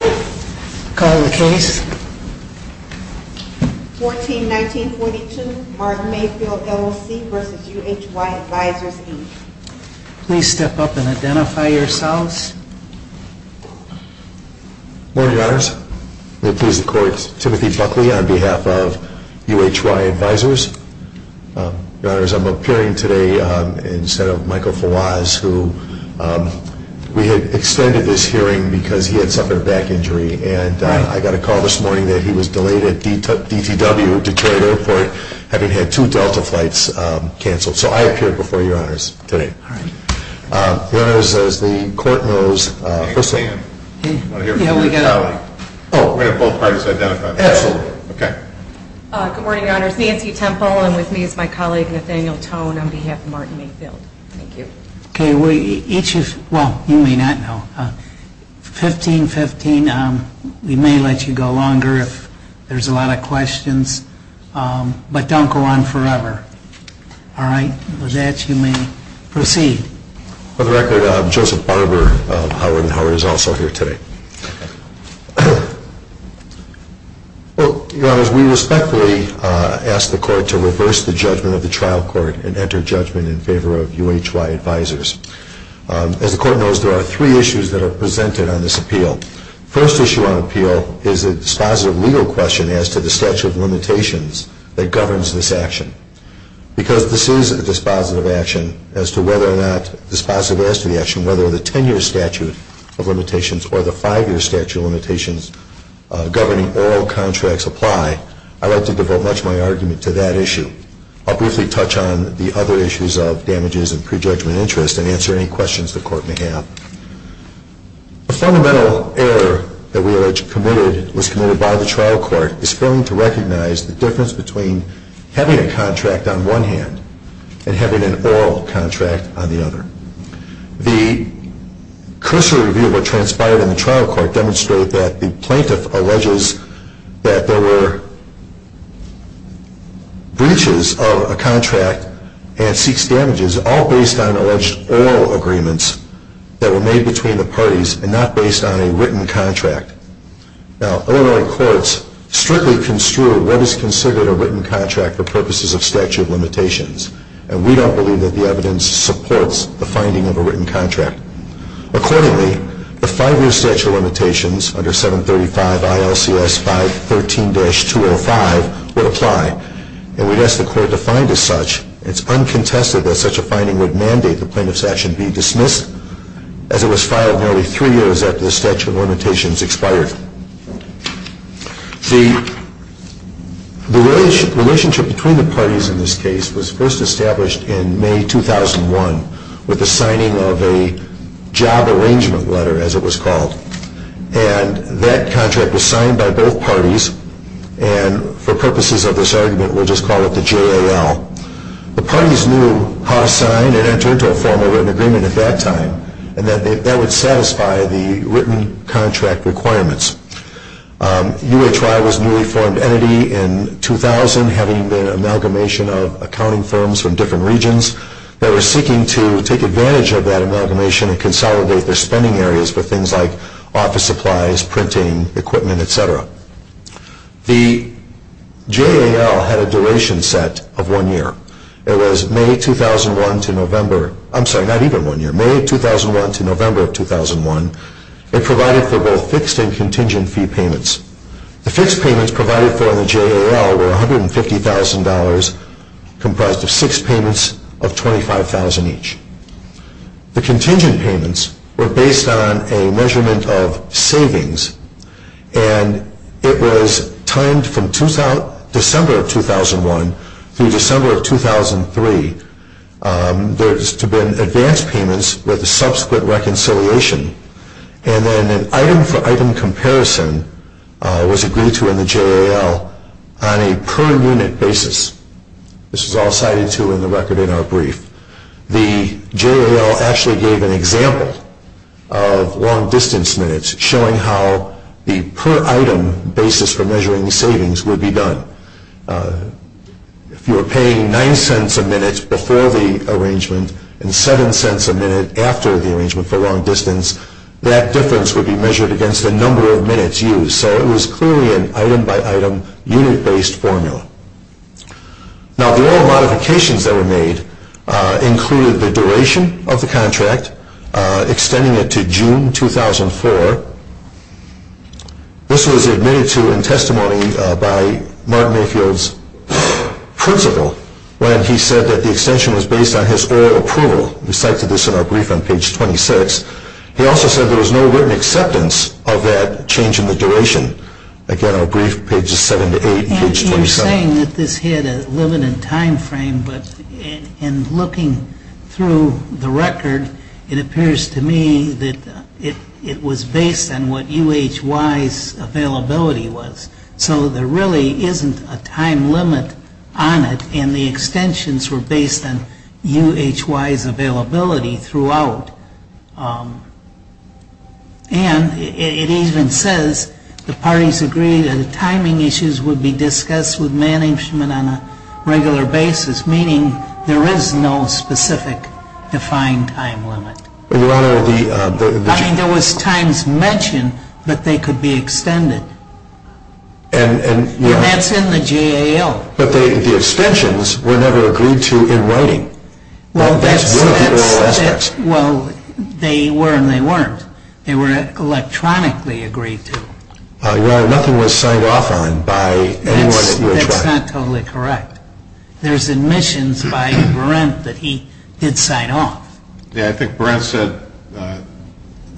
Please step up and identify yourselves. Good morning, Your Honors. May it please the Court, Timothy Buckley on behalf of UHY Advisors. Your Honors, I'm appearing today instead of Michael Fawaz, who we had extended this hearing because he had suffered a back injury. And I got a call this morning that he was delayed at DTW, Detroit Airport, having had two Delta flights canceled. So I appear before Your Honors today. Your Honors, as the Court knows... We're going to have both parties identify themselves. Good morning, Your Honors. Nancy Temple, and with me is my colleague Nathaniel Tone on behalf of Martin Mayfield. Thank you. Well, you may not know. 1515, we may let you go longer if there's a lot of questions, but don't go on forever. All right? With that, you may proceed. For the record, Joseph Barber of Howard & Howard is also here today. Well, Your Honors, we respectfully ask the Court to reverse the judgment of the trial court and enter judgment in favor of UHY Advisors. As the Court knows, there are three issues that are presented on this appeal. The first issue on appeal is a dispositive legal question as to the statute of limitations that governs this action. Because this is a dispositive action as to whether or not... governing oral contracts apply, I'd like to devote much of my argument to that issue. I'll briefly touch on the other issues of damages and prejudgment interest and answer any questions the Court may have. A fundamental error that we allege was committed by the trial court is failing to recognize the difference between having a contract on one hand and having an oral contract on the other. The cursory review of what transpired in the trial court demonstrated that the plaintiff alleges that there were breaches of a contract and ceased damages, all based on alleged oral agreements that were made between the parties and not based on a written contract. Now, Illinois courts strictly construe what is considered a written contract for purposes of statute of limitations. And we don't believe that the evidence supports the finding of a written contract. Accordingly, the five-year statute of limitations under 735 ILCS 513-205 would apply. And we'd ask the Court to find as such. It's uncontested that such a finding would mandate the plaintiff's action be dismissed as it was filed nearly three years after the statute of limitations expired. The relationship between the parties in this case was first established in May 2001 with the signing of a job arrangement letter, as it was called. And that contract was signed by both parties. And for purposes of this argument, we'll just call it the JAL. The parties knew how to sign and enter into a formal written agreement at that time, and that that would satisfy the written contract requirements. UHY was a newly formed entity in 2000, having been an amalgamation of accounting firms from different regions that were seeking to take advantage of that amalgamation and consolidate their spending areas for things like office supplies, printing, equipment, etc. The JAL had a duration set of one year. It was May 2001 to November of 2001. It provided for both fixed and contingent fee payments. The fixed payments provided for in the JAL were $150,000, comprised of six payments of $25,000 each. The contingent payments were based on a measurement of savings, and it was timed from December of 2001 through December of 2003. There was to have been advance payments with a subsequent reconciliation. And then an item-for-item comparison was agreed to in the JAL on a per-unit basis. This is all cited to in the record in our brief. The JAL actually gave an example of long-distance minutes, showing how the per-item basis for measuring savings would be done. If you were paying $0.09 a minute before the arrangement and $0.07 a minute after the arrangement for long distance, that difference would be measured against the number of minutes used. So it was clearly an item-by-item, unit-based formula. Now, the oil modifications that were made included the duration of the contract, extending it to June 2004. This was admitted to in testimony by Martin Mayfield's principal when he said that the extension was based on his oil approval. We cited this in our brief on page 26. He also said there was no written acceptance of that change in the duration. Again, our brief, pages 7 to 8 and page 27. And you're saying that this had a limited time frame, but in looking through the record, it appears to me that it was based on what UHY's availability was. So there really isn't a time limit on it, and the extensions were based on UHY's availability throughout. And it even says the parties agreed that the timing issues would be discussed with management on a regular basis, meaning there is no specific defined time limit. I mean, there was times mentioned, but they could be extended. And that's in the JAL. But the extensions were never agreed to in writing. Well, they were and they weren't. They were electronically agreed to. Nothing was signed off on by anyone. That's not totally correct. There's admissions by Berendt that he did sign off. Yeah, I think Berendt said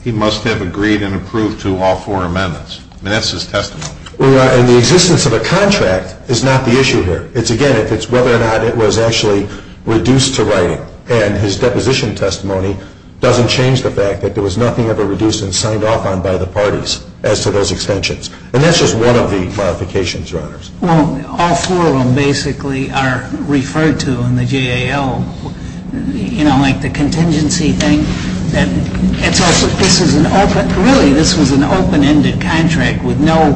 he must have agreed and approved to all four amendments. I mean, that's his testimony. And the existence of a contract is not the issue here. It's, again, whether or not it was actually reduced to writing. And his deposition testimony doesn't change the fact that there was nothing ever reduced and signed off on by the parties as to those extensions. And that's just one of the modifications, Your Honors. Well, all four of them basically are referred to in the JAL, you know, like the contingency thing. Really, this was an open-ended contract with no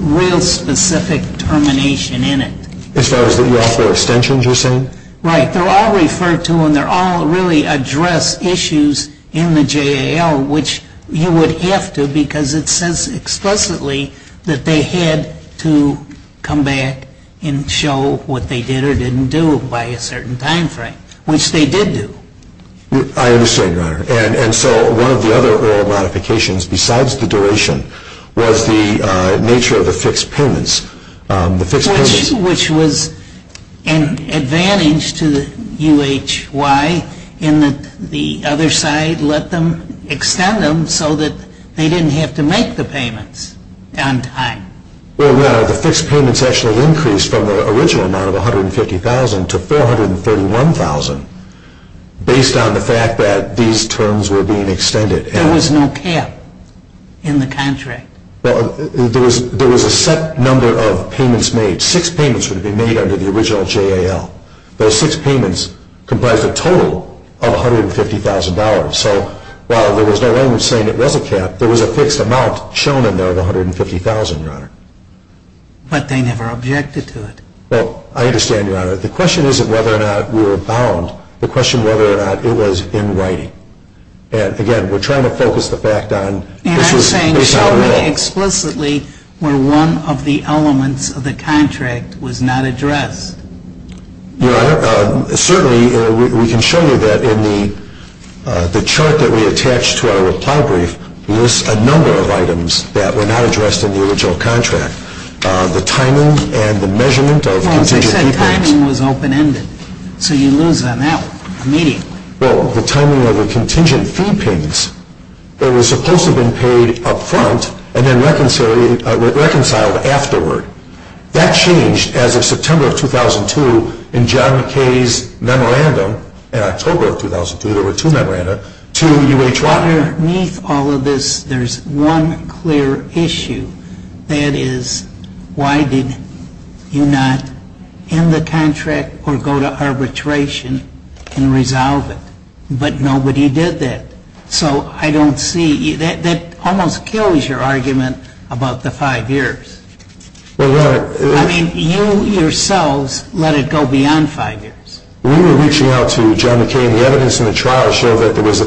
real specific termination in it. As far as the offer of extensions you're saying? Right. They're all referred to and they all really address issues in the JAL, which you would have to because it says explicitly that they had to come back and show what they did or didn't do by a certain time frame, which they did do. I understand, Your Honor. And so one of the other oral modifications besides the duration was the nature of the fixed payments. Which was an advantage to the UHY in that the other side let them extend them so that they didn't have to make the payments on time. Well, Your Honor, the fixed payments actually increased from the original amount of $150,000 to $431,000. Based on the fact that these terms were being extended. There was no cap in the contract. Well, there was a set number of payments made. Six payments were to be made under the original JAL. Those six payments comprised a total of $150,000. So while there was no way of saying it was a cap, there was a fixed amount shown in there of $150,000, Your Honor. But they never objected to it. Well, I understand, Your Honor. The question isn't whether or not we were bound. The question is whether or not it was in writing. And again, we're trying to focus the fact on this was based on a will. And I'm saying show me explicitly where one of the elements of the contract was not addressed. Your Honor, certainly we can show you that in the chart that we attached to our reply brief, we list a number of items that were not addressed in the original contract. The timing and the measurement of contingent fee payments. Well, as I said, timing was open-ended. So you lose on that immediately. Well, the timing of the contingent fee payments, they were supposed to have been paid up front and then reconciled afterward. That changed as of September of 2002 in John McKay's memorandum. In October of 2002, there were two memorandums, two UH1. Underneath all of this, there's one clear issue. That is, why did you not end the contract or go to arbitration and resolve it? But nobody did that. So I don't see you. That almost kills your argument about the five years. Well, Your Honor. I mean, you yourselves let it go beyond five years. We were reaching out to John McKay, and the evidence in the trial showed that there was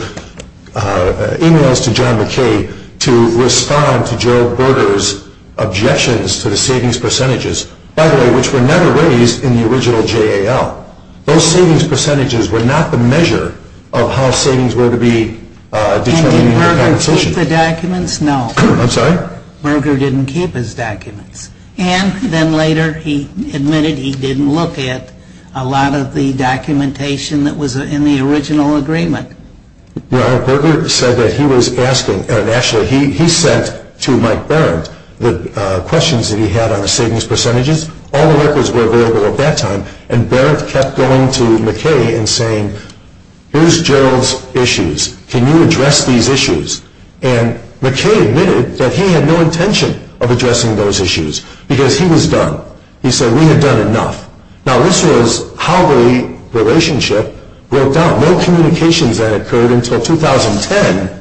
e-mails to John McKay to respond to Gerald Berger's objections to the savings percentages, by the way, which were never raised in the original JAL. Those savings percentages were not the measure of how savings were to be determined in the compensation. And did Berger keep the documents? No. Berger didn't keep his documents. And then later he admitted he didn't look at a lot of the documentation that was in the original agreement. Well, Berger said that he was asking, and actually he sent to Mike Berent the questions that he had on the savings percentages. All the records were available at that time. And Berent kept going to McKay and saying, here's Gerald's issues. Can you address these issues? And McKay admitted that he had no intention of addressing those issues because he was done. He said, we have done enough. Now, this was how the relationship broke down. No communications had occurred until 2010,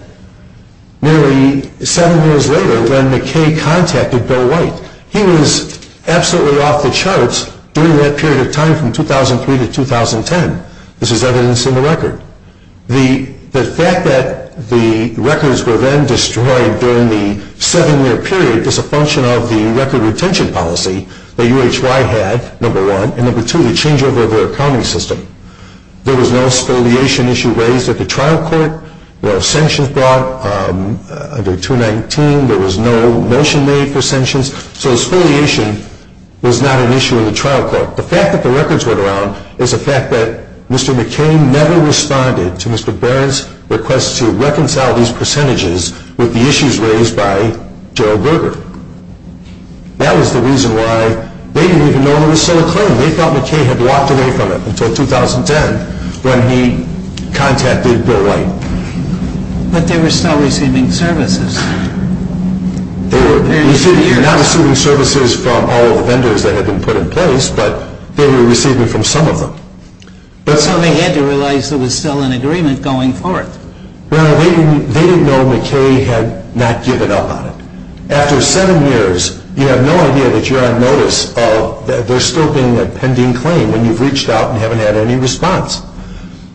nearly seven years later, when McKay contacted Bill White. He was absolutely off the charts during that period of time from 2003 to 2010. This is evidence in the record. The fact that the records were then destroyed during the seven-year period is a function of the record retention policy that UHY had, number one. And number two, the changeover of their accounting system. There was no spoliation issue raised at the trial court. No sanctions brought under 219. There was no motion made for sanctions. So spoliation was not an issue in the trial court. The fact that the records went around is a fact that Mr. McKay never responded to Mr. Berent's request to reconcile these percentages with the issues raised by Gerald Berger. That was the reason why they didn't even know he was so acclaimed. They thought McKay had walked away from him until 2010 when he contacted Bill White. But they were still receiving services. You're not receiving services from all of the vendors that had been put in place, but they were receiving from some of them. So they had to realize there was still an agreement going forward. Well, they didn't know McKay had not given up on it. After seven years, you have no idea that you're on notice of there still being a pending claim when you've reached out and haven't had any response.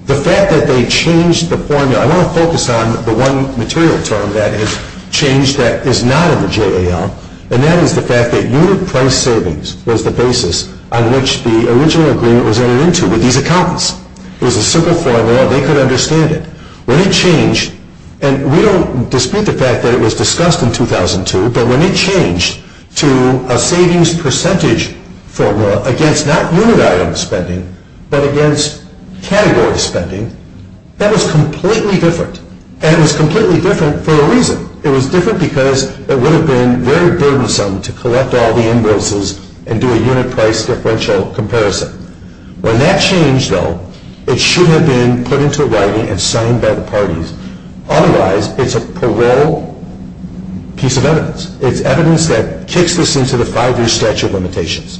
The fact that they changed the formula, I want to focus on the one material term that has changed that is not in the JAL, and that is the fact that unit price savings was the basis on which the original agreement was entered into with these accountants. It was a simple formula. They could understand it. When it changed, and we don't dispute the fact that it was discussed in 2002, but when it changed to a savings percentage formula against not unit item spending but against category spending, that was completely different. And it was completely different for a reason. It was different because it would have been very burdensome to collect all the invoices and do a unit price differential comparison. When that changed, though, it should have been put into writing and signed by the parties. Otherwise, it's a parole piece of evidence. It's evidence that kicks this into the five-year statute of limitations.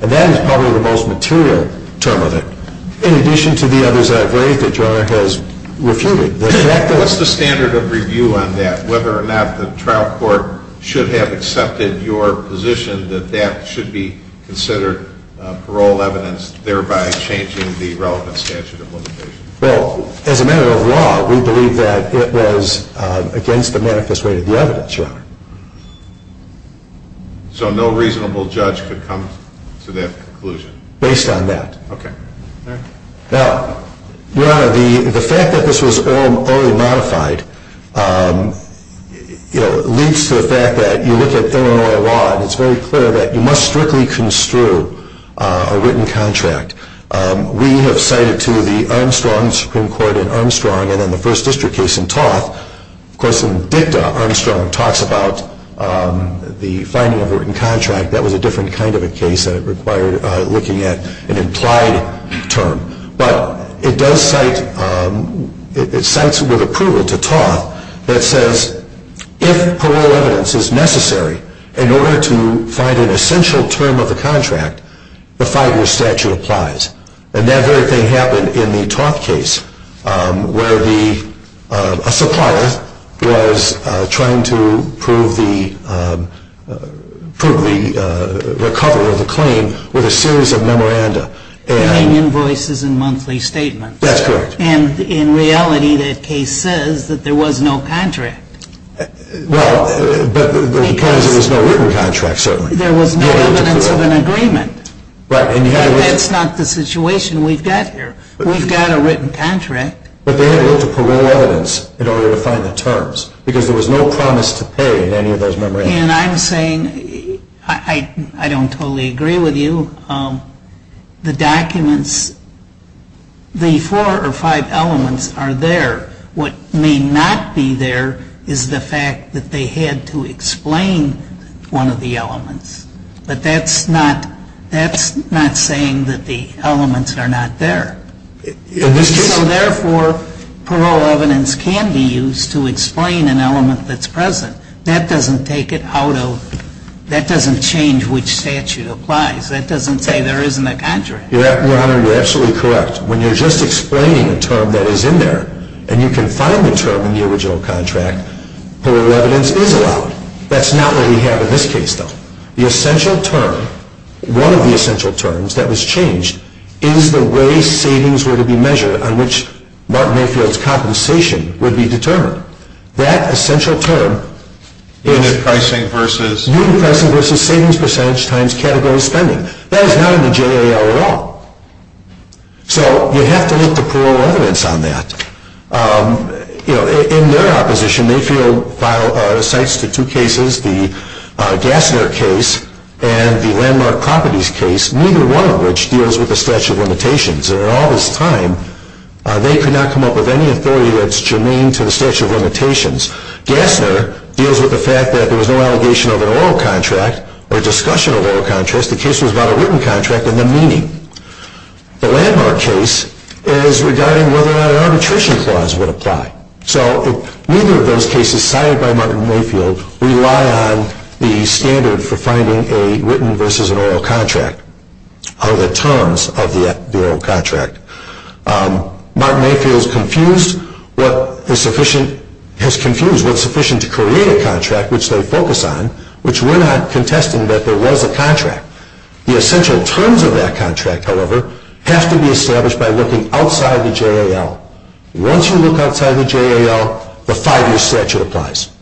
And that is probably the most material term of it, in addition to the others that I've raised that your Honor has refuted. What's the standard of review on that, whether or not the trial court should have accepted your position that that should be considered parole evidence, thereby changing the relevant statute of limitations? Well, as a matter of law, we believe that it was against the manifest rate of the evidence, your Honor. So no reasonable judge could come to that conclusion? Based on that. Okay. Now, your Honor, the fact that this was all modified leads to the fact that you look at Illinois law, and it's very clear that you must strictly construe a written contract. We have cited to the Armstrong Supreme Court in Armstrong and in the first district case in Toth. Of course, in dicta, Armstrong talks about the finding of a written contract. That was a different kind of a case, and it required looking at an implied term. But it does cite, it cites with approval to Toth that says, if parole evidence is necessary in order to find an essential term of the contract, the five-year statute applies. And that very thing happened in the Toth case, where a supplier was trying to prove the recovery of the claim with a series of memoranda. Paying invoices and monthly statements. That's correct. And in reality, the case says that there was no contract. Well, but because there was no written contract, certainly. There was no evidence of an agreement. Right. That's not the situation we've got here. We've got a written contract. But they had to look at parole evidence in order to find the terms, because there was no promise to pay in any of those memorandas. And I'm saying, I don't totally agree with you. The documents, the four or five elements are there. What may not be there is the fact that they had to explain one of the elements. But that's not saying that the elements are not there. So therefore, parole evidence can be used to explain an element that's present. That doesn't take it out of, that doesn't change which statute applies. That doesn't say there isn't a contract. Your Honor, you're absolutely correct. When you're just explaining a term that is in there, and you can find the term in the original contract, parole evidence is allowed. That's not what we have in this case, though. The essential term, one of the essential terms that was changed, is the way savings were to be measured on which Martin Mayfield's compensation would be determined. That essential term is unit pricing versus savings percentage times category spending. That is not in the JAL at all. So you have to look to parole evidence on that. In their opposition, Mayfield cites the two cases, the Gassner case and the Landmark Properties case, neither one of which deals with the statute of limitations. And in all this time, they could not come up with any authority that's germane to the statute of limitations. Gassner deals with the fact that there was no allegation of an oral contract or discussion of oral contracts. The case was about a written contract and the meaning. The Landmark case is regarding whether or not an arbitration clause would apply. So neither of those cases cited by Martin Mayfield rely on the standard for finding a written versus an oral contract or the terms of the oral contract. Martin Mayfield has confused what's sufficient to create a contract, which they focus on, which we're not contesting that there was a contract. The essential terms of that contract, however, have to be established by looking outside the JAL. Once you look outside the JAL, the five-year statute applies.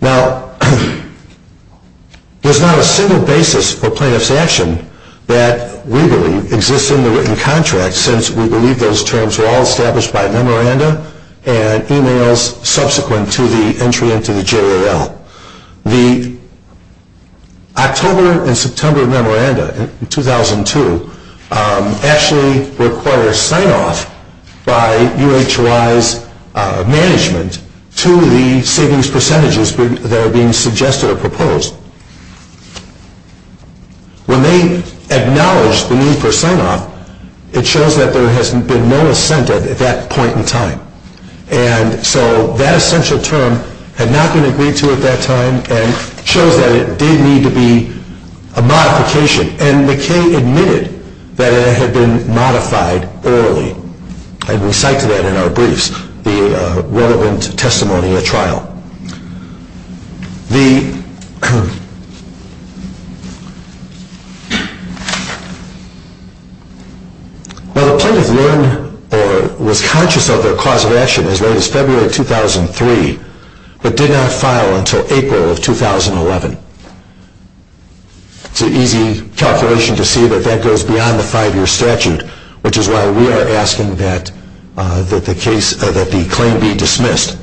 Now, there's not a single basis for plaintiff's action that we believe exists in the written contract, since we believe those terms were all established by memoranda and emails subsequent to the entry into the JAL. The October and September memoranda in 2002 actually requires sign-off by UHWI's management to the savings percentages that are being suggested or proposed. When they acknowledge the need for sign-off, it shows that there has been no assented at that point in time. And so that essential term had not been agreed to at that time and shows that it did need to be a modification. And McKay admitted that it had been modified orally, and we cite to that in our briefs the relevant testimony at trial. Now, the plaintiff learned or was conscious of their cause of action as late as February 2003, but did not file until April of 2011. It's an easy calculation to see that that goes beyond the five-year statute, which is why we are asking that the claim be dismissed.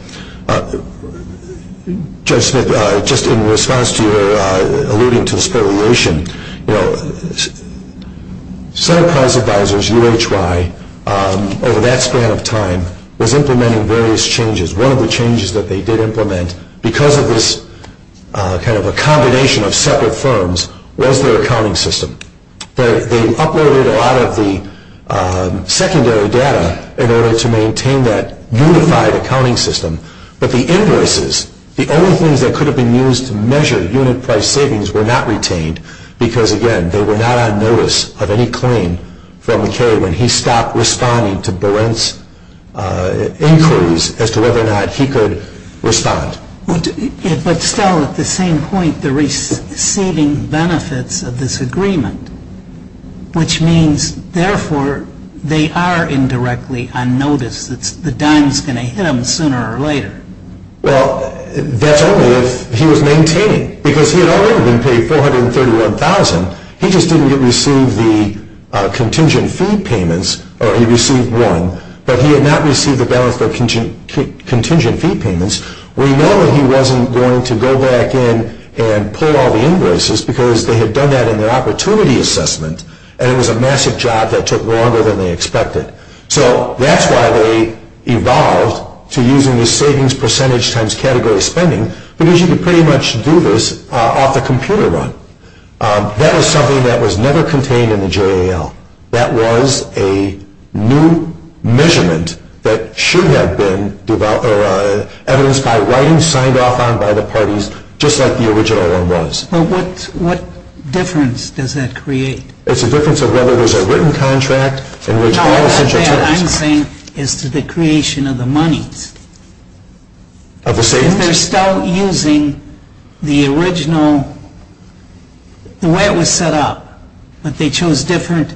Judge Smith, just in response to your alluding to the speculation, you know, Center Prize Advisors, UHWI, over that span of time was implementing various changes. One of the changes that they did implement, because of this kind of a combination of separate firms, was their accounting system. They uploaded a lot of the secondary data in order to maintain that unified accounting system. But the invoices, the only things that could have been used to measure unit price savings, were not retained because, again, they were not on notice of any claim from McKay when he stopped responding to Berent's inquiries as to whether or not he could respond. But still, at the same point, the receiving benefits of this agreement, which means, therefore, they are indirectly on notice. The dime is going to hit them sooner or later. Well, that's only if he was maintained, because he had already been paid $431,000. He just didn't receive the contingent fee payments, or he received one, but he had not received the balance of contingent fee payments. We know that he wasn't going to go back in and pull all the invoices, because they had done that in their opportunity assessment, and it was a massive job that took longer than they expected. So that's why they evolved to using the savings percentage times category spending, because you could pretty much do this off the computer run. That was something that was never contained in the JAL. That was a new measurement that should have been evidenced by writing signed off on by the parties, just like the original one was. But what difference does that create? It's a difference of whether there's a written contract in which all essential terms. No, what I'm saying is to the creation of the monies. Of the savings? If they're still using the original, the way it was set up, but they chose different,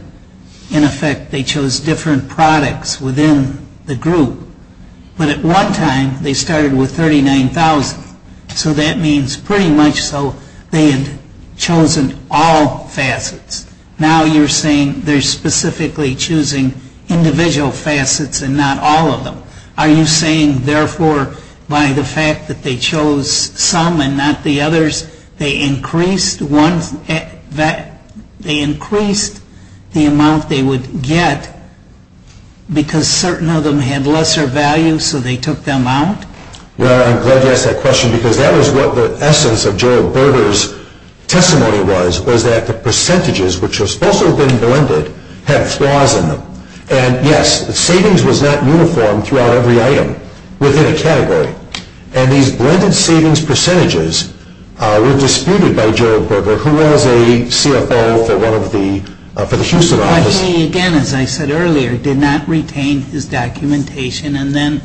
in effect they chose different products within the group, but at one time they started with $39,000, so that means pretty much so they had chosen all facets. Now you're saying they're specifically choosing individual facets and not all of them. Are you saying, therefore, by the fact that they chose some and not the others, they increased the amount they would get, because certain of them had lesser value, so they took them out? Well, I'm glad you asked that question, because that was what the essence of Gerald Berger's testimony was, was that the percentages, which were supposed to have been blended, had flaws in them. And yes, the savings was not uniform throughout every item within a category. And these blended savings percentages were disputed by Gerald Berger, who was a CFO for the Houston office. But he, again, as I said earlier, did not retain his documentation and then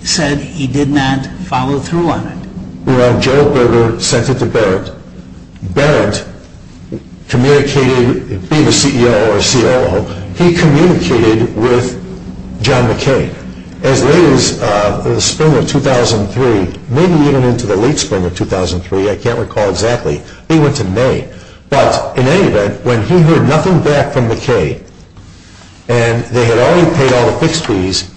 said he did not follow through on it. Well, Gerald Berger sent it to Barrett. Barrett communicated, being a CEO or COO, he communicated with John McKay. As late as the spring of 2003, maybe even into the late spring of 2003, I can't recall exactly, they went to May. But in any event, when he heard nothing back from McKay and they had already paid all the fixed fees,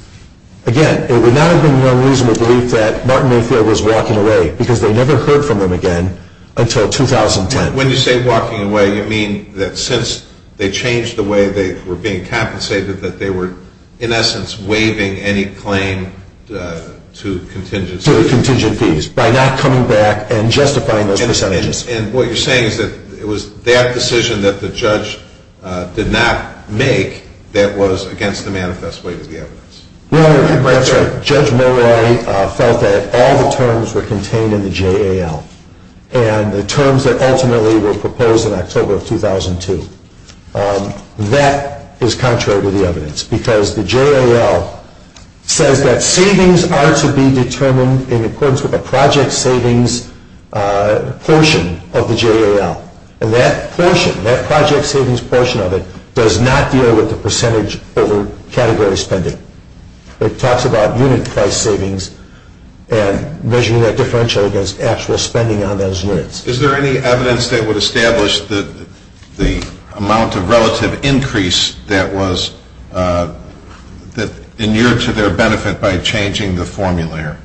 again, it would not have been the unreasonable belief that Martin Mayfield was walking away, because they never heard from him again until 2010. When you say walking away, you mean that since they changed the way they were being compensated, that they were in essence waiving any claim to contingent fees. To contingent fees, by not coming back and justifying those percentages. And what you're saying is that it was that decision that the judge did not make that was against the manifest way to the evidence. Judge Mulroy felt that all the terms were contained in the JAL. And the terms that ultimately were proposed in October of 2002. That is contrary to the evidence. Because the JAL says that savings are to be determined in accordance with a project savings portion of the JAL. And that portion, that project savings portion of it, does not deal with the percentage over category spending. It talks about unit price savings and measuring that differential against actual spending on those units. Is there any evidence that would establish the amount of relative increase that was, that inured to their benefit by changing the formula here?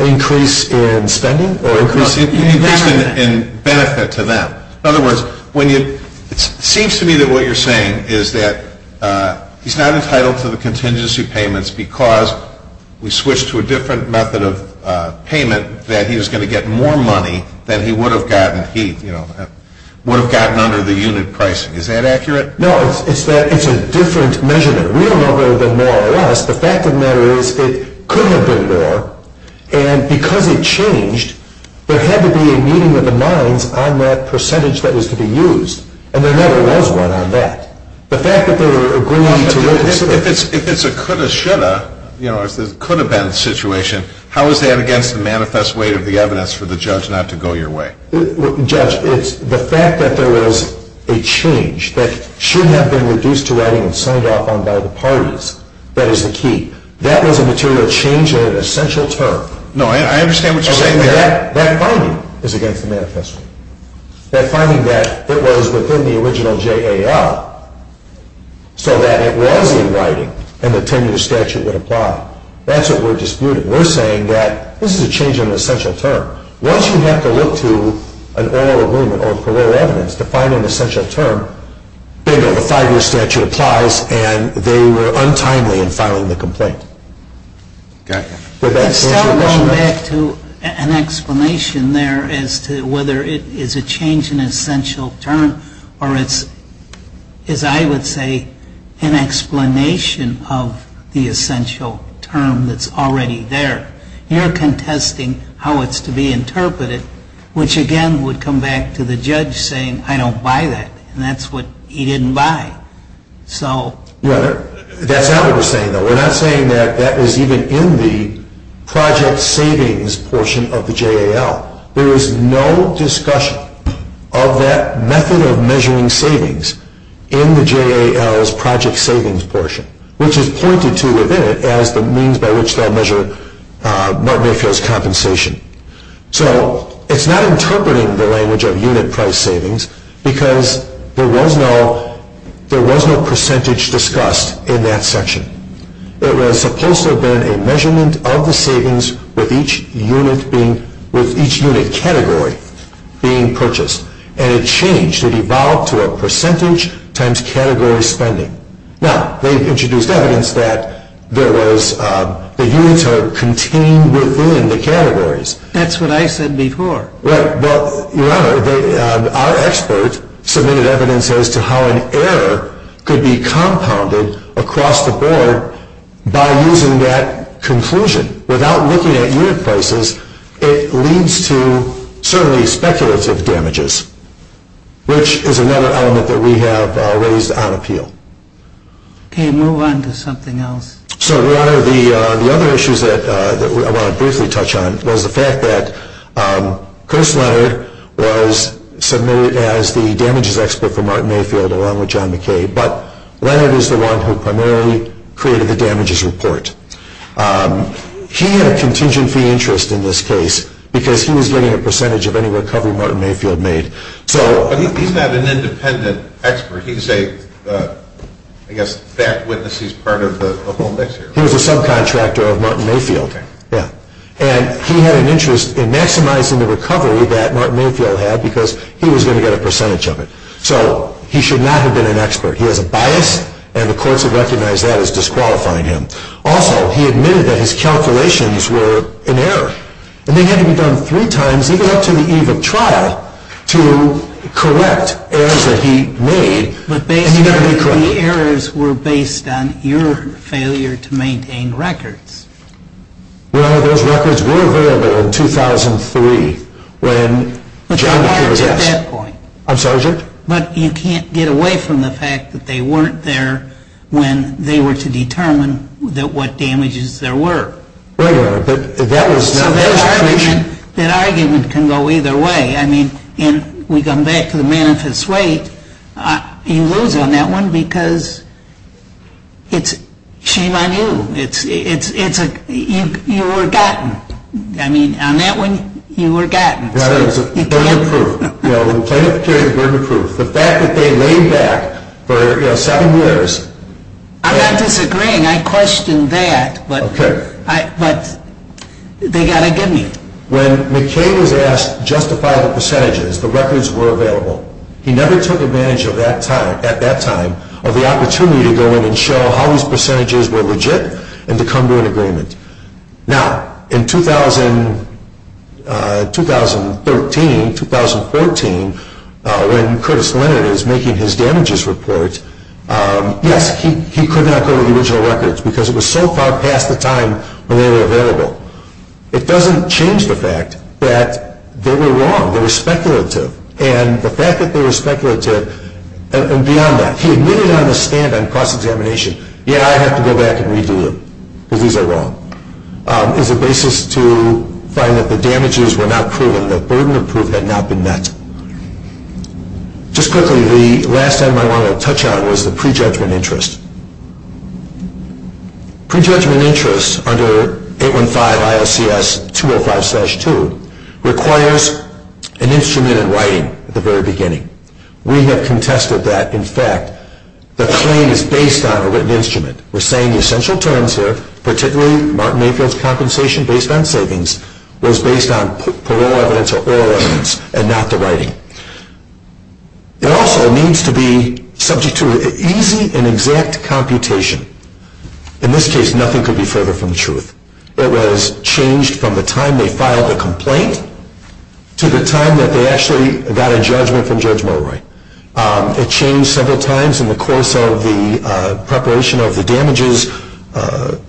Increase in spending? Increase in benefit to them. In other words, when you, it seems to me that what you're saying is that he's not entitled to the contingency payments because we switched to a different method of payment that he was going to get more money than he would have gotten, he would have gotten under the unit pricing. Is that accurate? No, it's that it's a different measurement. We don't know whether there are more or less. The fact of the matter is it could have been more. And because it changed, there had to be a meeting of the minds on that percentage that was to be used. And there never was one on that. The fact that they were agreeing to... If it's a coulda, shoulda, you know, coulda been situation, how is that against the manifest weight of the evidence for the judge not to go your way? Judge, it's the fact that there was a change that shouldn't have been reduced to writing and signed off on by the parties. That is the key. That was a material change in an essential term. No, I understand what you're saying there. That finding is against the manifest weight. That finding that it was within the original JAL so that it was in writing and the 10-year statute would apply. That's what we're disputing. We're saying that this is a change in an essential term. Once you have to look to an oral agreement or parole evidence to find an essential term, the five-year statute applies and they were untimely in filing the complaint. Okay. I'm still going back to an explanation there as to whether it is a change in an essential term or it's, as I would say, an explanation of the essential term that's already there. You're contesting how it's to be interpreted, which again would come back to the judge saying, I don't buy that, and that's what he didn't buy. That's not what we're saying, though. We're not saying that that was even in the project savings portion of the JAL. There was no discussion of that method of measuring savings in the JAL's project savings portion, which is pointed to within it as the means by which they'll measure Mark Mayfield's compensation. So it's not interpreting the language of unit price savings because there was no percentage discussed in that section. It was supposed to have been a measurement of the savings with each unit category being purchased, and it changed. It evolved to a percentage times category spending. Now, they introduced evidence that the units are contained within the categories. That's what I said before. Right. Well, Your Honor, our expert submitted evidence as to how an error could be compounded across the board by using that conclusion. Without looking at unit prices, it leads to certainly speculative damages, which is another element that we have raised on appeal. Okay. Move on to something else. So, Your Honor, the other issues that I want to briefly touch on was the fact that Chris Leonard was submitted as the damages expert for Mark Mayfield along with John McKay, but Leonard is the one who primarily created the damages report. He had a contingent fee interest in this case because he was getting a percentage of any recovery Martin Mayfield made. But he's not an independent expert. He's a, I guess, fact witness. He's part of the whole mix here. He was a subcontractor of Martin Mayfield. Okay. Yeah. And he had an interest in maximizing the recovery that Martin Mayfield had because he was going to get a percentage of it. So he should not have been an expert. He has a bias, and the courts have recognized that as disqualifying him. Also, he admitted that his calculations were in error, and they had to be done three times, even up to the eve of trial, to correct errors that he made. But the errors were based on your failure to maintain records. Well, those records were available in 2003 when John McKay was asked. But they weren't at that point. I'm sorry, Judge? But you can't get away from the fact that they weren't there when they were to determine what damages there were. So that argument can go either way. I mean, we come back to the manifest weight. You lose on that one because it's shame on you. You were gotten. I mean, on that one, you were gotten. Yeah, it was a burden of proof. You know, the plaintiff carried a burden of proof. The fact that they laid back for seven years. I'm not disagreeing. I questioned that. But they got to get me. When McKay was asked to justify the percentages, the records were available. He never took advantage at that time of the opportunity to go in and show how his percentages were legit and to come to an agreement. Now, in 2013, 2014, when Curtis Leonard is making his damages report, yes, he could not go to the original records because it was so far past the time when they were available. It doesn't change the fact that they were wrong. They were speculative. And the fact that they were speculative and beyond that, he admitted on the stand on cross-examination, yeah, I have to go back and redo them because these are wrong, is a basis to find that the damages were not proven. The burden of proof had not been met. Just quickly, the last item I want to touch on was the prejudgment interest. Prejudgment interest under 815 ISCS 205-2 requires an instrument in writing at the very beginning. We have contested that. In fact, the claim is based on a written instrument. We're saying the essential terms here, particularly Martin Mayfield's compensation based on savings, was based on parole evidence or oral evidence and not the writing. It also needs to be subject to easy and exact computation. In this case, nothing could be further from the truth. It was changed from the time they filed the complaint to the time that they actually got a judgment from Judge Morroy. It changed several times in the course of the preparation of the damages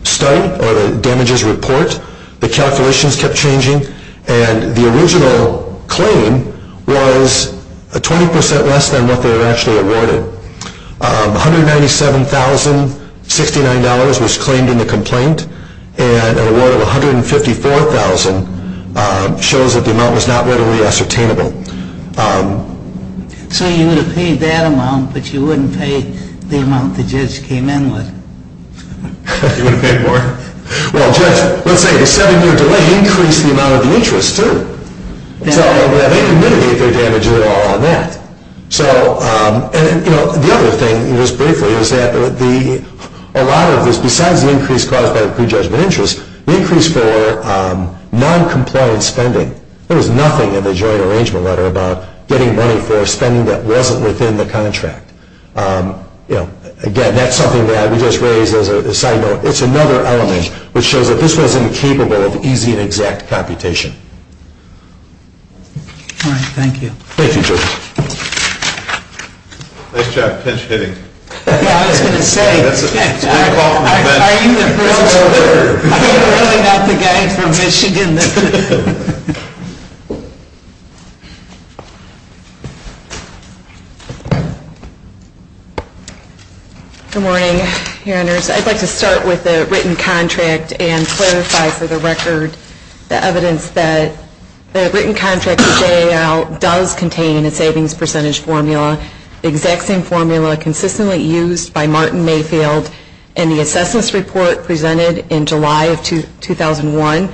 study or the damages report. The calculations kept changing, and the original claim was 20% less than what they were actually awarded. $197,069 was claimed in the complaint, and an award of $154,000 shows that the amount was not readily ascertainable. So you would have paid that amount, but you wouldn't pay the amount the judge came in with. You would have paid more? Well, Judge, let's say the seven-year delay increased the amount of the interest, too. So they can mitigate their damages at all on that. The other thing, just briefly, is that a lot of this, besides the increase caused by the prejudgment interest, the increase for noncompliant spending. There was nothing in the joint arrangement letter about getting money for spending that wasn't within the contract. Again, that's something that we just raised as a side note. It's another element which shows that this wasn't capable of easy and exact computation. All right. Thank you. Thank you, Judge. Nice job. Pinch-hitting. I was going to say, I'm really not the guy from Michigan. Good morning, your honors. I'd like to start with the written contract and clarify, for the record, the evidence that the written contract does contain a savings percentage formula, the exact same formula consistently used by Martin Mayfield in the assessments report presented in July of 2001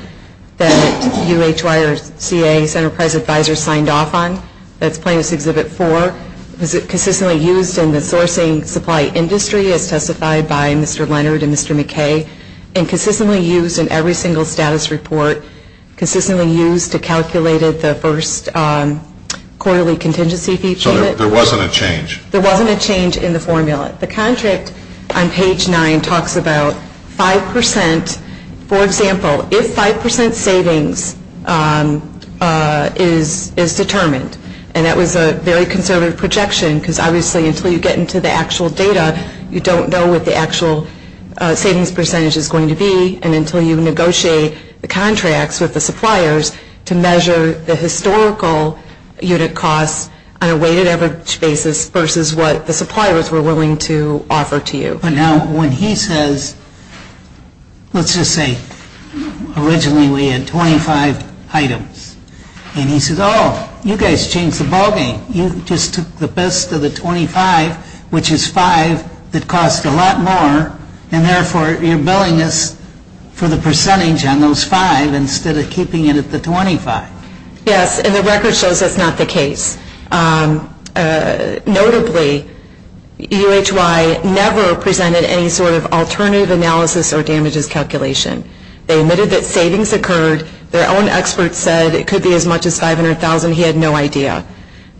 that UH YRCA's enterprise advisor signed off on. That's plaintiff's Exhibit 4. It was consistently used in the sourcing supply industry as testified by Mr. Leonard and Mr. McKay and consistently used in every single status report, consistently used to calculate the first quarterly contingency fee. So there wasn't a change? There wasn't a change in the formula. The contract on page 9 talks about 5%. For example, if 5% savings is determined, and that was a very conservative projection because, obviously, until you get into the actual data, you don't know what the actual savings percentage is going to be and until you negotiate the contracts with the suppliers to measure the historical unit costs on a weighted average basis versus what the suppliers were willing to offer to you. But now when he says, let's just say, originally we had 25 items, and he says, oh, you guys changed the ballgame. You just took the best of the 25, which is 5, that cost a lot more, and therefore you're billing us for the percentage on those 5 instead of keeping it at the 25. Yes, and the record shows that's not the case. Notably, UHY never presented any sort of alternative analysis or damages calculation. They admitted that savings occurred. Their own experts said it could be as much as $500,000. He had no idea.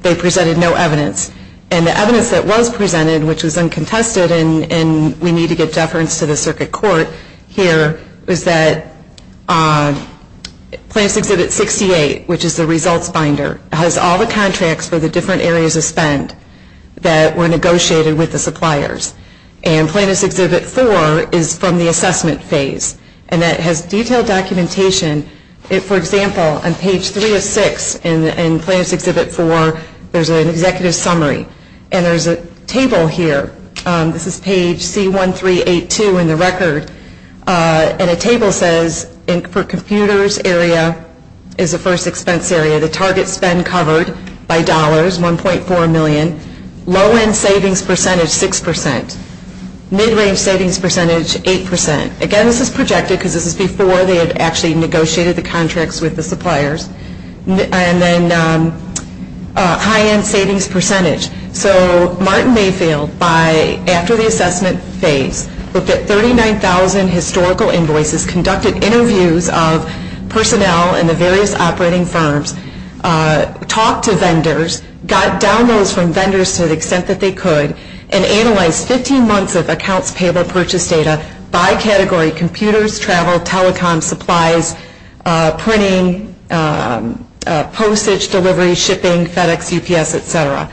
They presented no evidence. And the evidence that was presented, which was uncontested, and we need to give deference to the circuit court here, was that Plannist Exhibit 68, which is the results binder, has all the contracts for the different areas of spend that were negotiated with the suppliers. And Plannist Exhibit 4 is from the assessment phase, and that has detailed documentation. For example, on page 3 of 6 in Plannist Exhibit 4, there's an executive summary, and there's a table here. This is page C1382 in the record, and a table says for computers area is the first expense area. The target spend covered by dollars, $1.4 million. Low-end savings percentage, 6%. Mid-range savings percentage, 8%. Again, this is projected because this is before they had actually negotiated the contracts with the suppliers. And then high-end savings percentage. So Martin Mayfield, after the assessment phase, looked at 39,000 historical invoices, conducted interviews of personnel in the various operating firms, talked to vendors, got downloads from vendors to the extent that they could, and analyzed 15 months of accounts payable purchase data by category, computers, travel, telecom, supplies, printing, postage, delivery, shipping, FedEx, UPS, etc.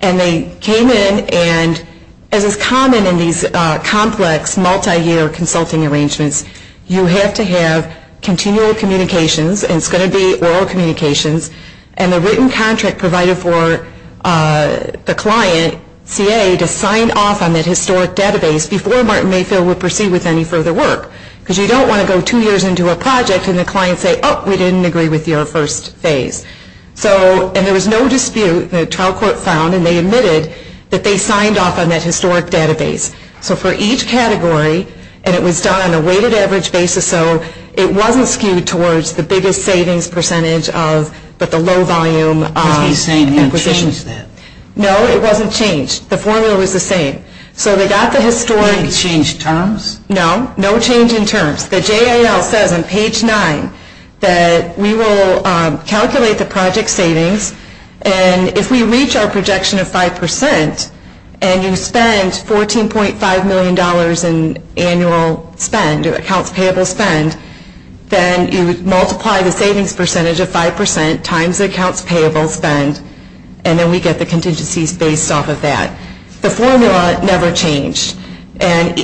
And they came in, and as is common in these complex multi-year consulting arrangements, you have to have continual communications, and it's going to be oral communications, and a written contract provided for the client, CA, to sign off on that historic database before Martin Mayfield would proceed with any further work. Because you don't want to go two years into a project and the client say, oh, we didn't agree with your first phase. So, and there was no dispute. The trial court found, and they admitted, that they signed off on that historic database. So for each category, and it was done on a weighted average basis, so it wasn't skewed towards the biggest savings percentage of, but the low-volume acquisitions. No, it wasn't changed. The formula was the same. So they got the historic. Did they change terms? No, no change in terms. The JAL says on page 9 that we will calculate the project savings, and if we reach our projection of 5 percent, and you spend $14.5 million in annual spend, accounts payable spend, then you multiply the savings percentage of 5 percent times the accounts payable spend, and then we get the contingencies based off of that. The formula never changed. And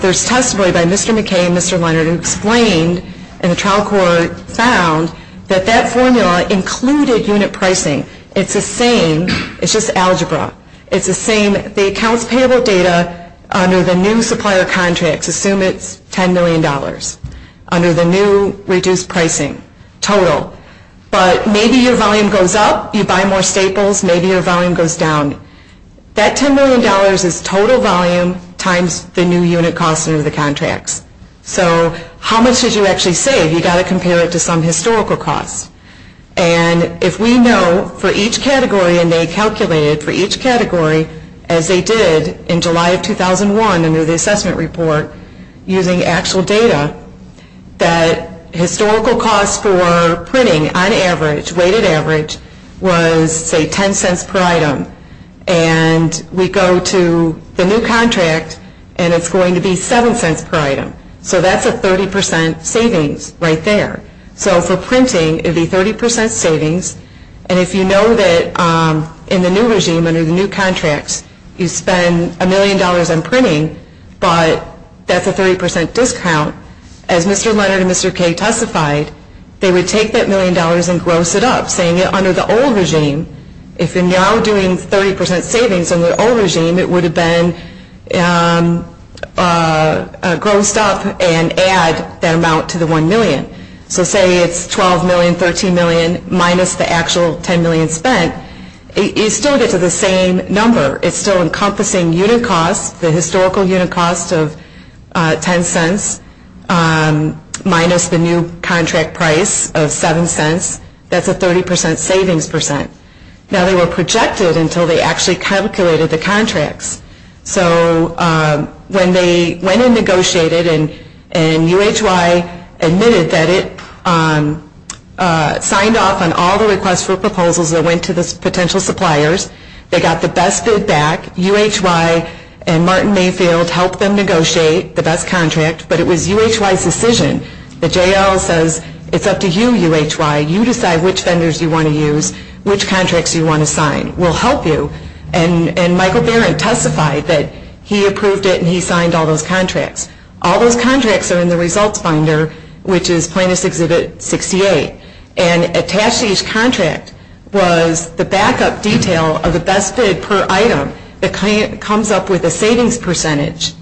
there's testimony by Mr. McKay and Mr. Leonard who explained, and the trial court found that that formula included unit pricing. It's the same. It's just algebra. It's the same. The accounts payable data under the new supplier contracts, assume it's $10 million, under the new reduced pricing total. But maybe your volume goes up. You buy more staples. Maybe your volume goes down. That $10 million is total volume times the new unit cost under the contracts. So how much did you actually save? You've got to compare it to some historical cost. And if we know for each category, and they calculated for each category, as they did in July of 2001 under the assessment report using actual data, that historical cost for printing on average, weighted average, was, say, $0.10 per item. And we go to the new contract, and it's going to be $0.07 per item. So that's a 30 percent savings right there. So for printing, it would be 30 percent savings. And if you know that in the new regime, under the new contracts, you spend $1 million on printing, but that's a 30 percent discount, as Mr. Leonard and Mr. Kay testified, they would take that $1 million and gross it up, saying under the old regime, if you're now doing 30 percent savings under the old regime, it would have been grossed up and add that amount to the $1 million. So say it's $12 million, $13 million, minus the actual $10 million spent, you still get to the same number. It's still encompassing unit costs, the historical unit cost of $0.10, minus the new contract price of $0.07. That's a 30 percent savings percent. Now, they were projected until they actually calculated the contracts. So when they went and negotiated and UHY admitted that it signed off on all the requests for proposals that went to the potential suppliers, they got the best bid back. UHY and Martin Mayfield helped them negotiate the best contract, but it was UHY's decision. The JL says, it's up to you, UHY. You decide which vendors you want to use, which contracts you want to sign. We'll help you. And Michael Barron testified that he approved it and he signed all those contracts. All those contracts are in the results binder, which is plaintiff's exhibit 68. And attached to each contract was the backup detail of the best bid per item that comes up with a savings percentage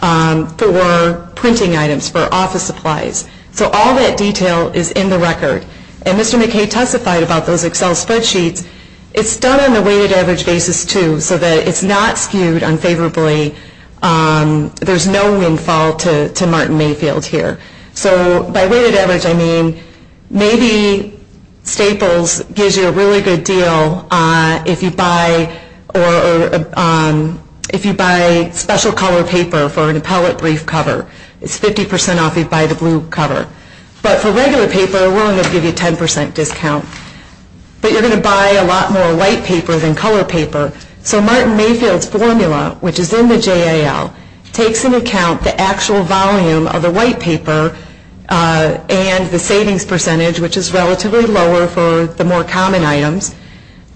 for printing items for office supplies. So all that detail is in the record. And Mr. McKay testified about those Excel spreadsheets. It's done on a weighted average basis, too, so that it's not skewed unfavorably. There's no windfall to Martin Mayfield here. So by weighted average, I mean maybe Staples gives you a really good deal if you buy special color paper for an appellate brief cover. It's 50% off if you buy the blue cover. But for regular paper, we're only going to give you a 10% discount. But you're going to buy a lot more white paper than color paper. So Martin Mayfield's formula, which is in the JAL, takes into account the actual volume of the white paper and the savings percentage, which is relatively lower for the more common items.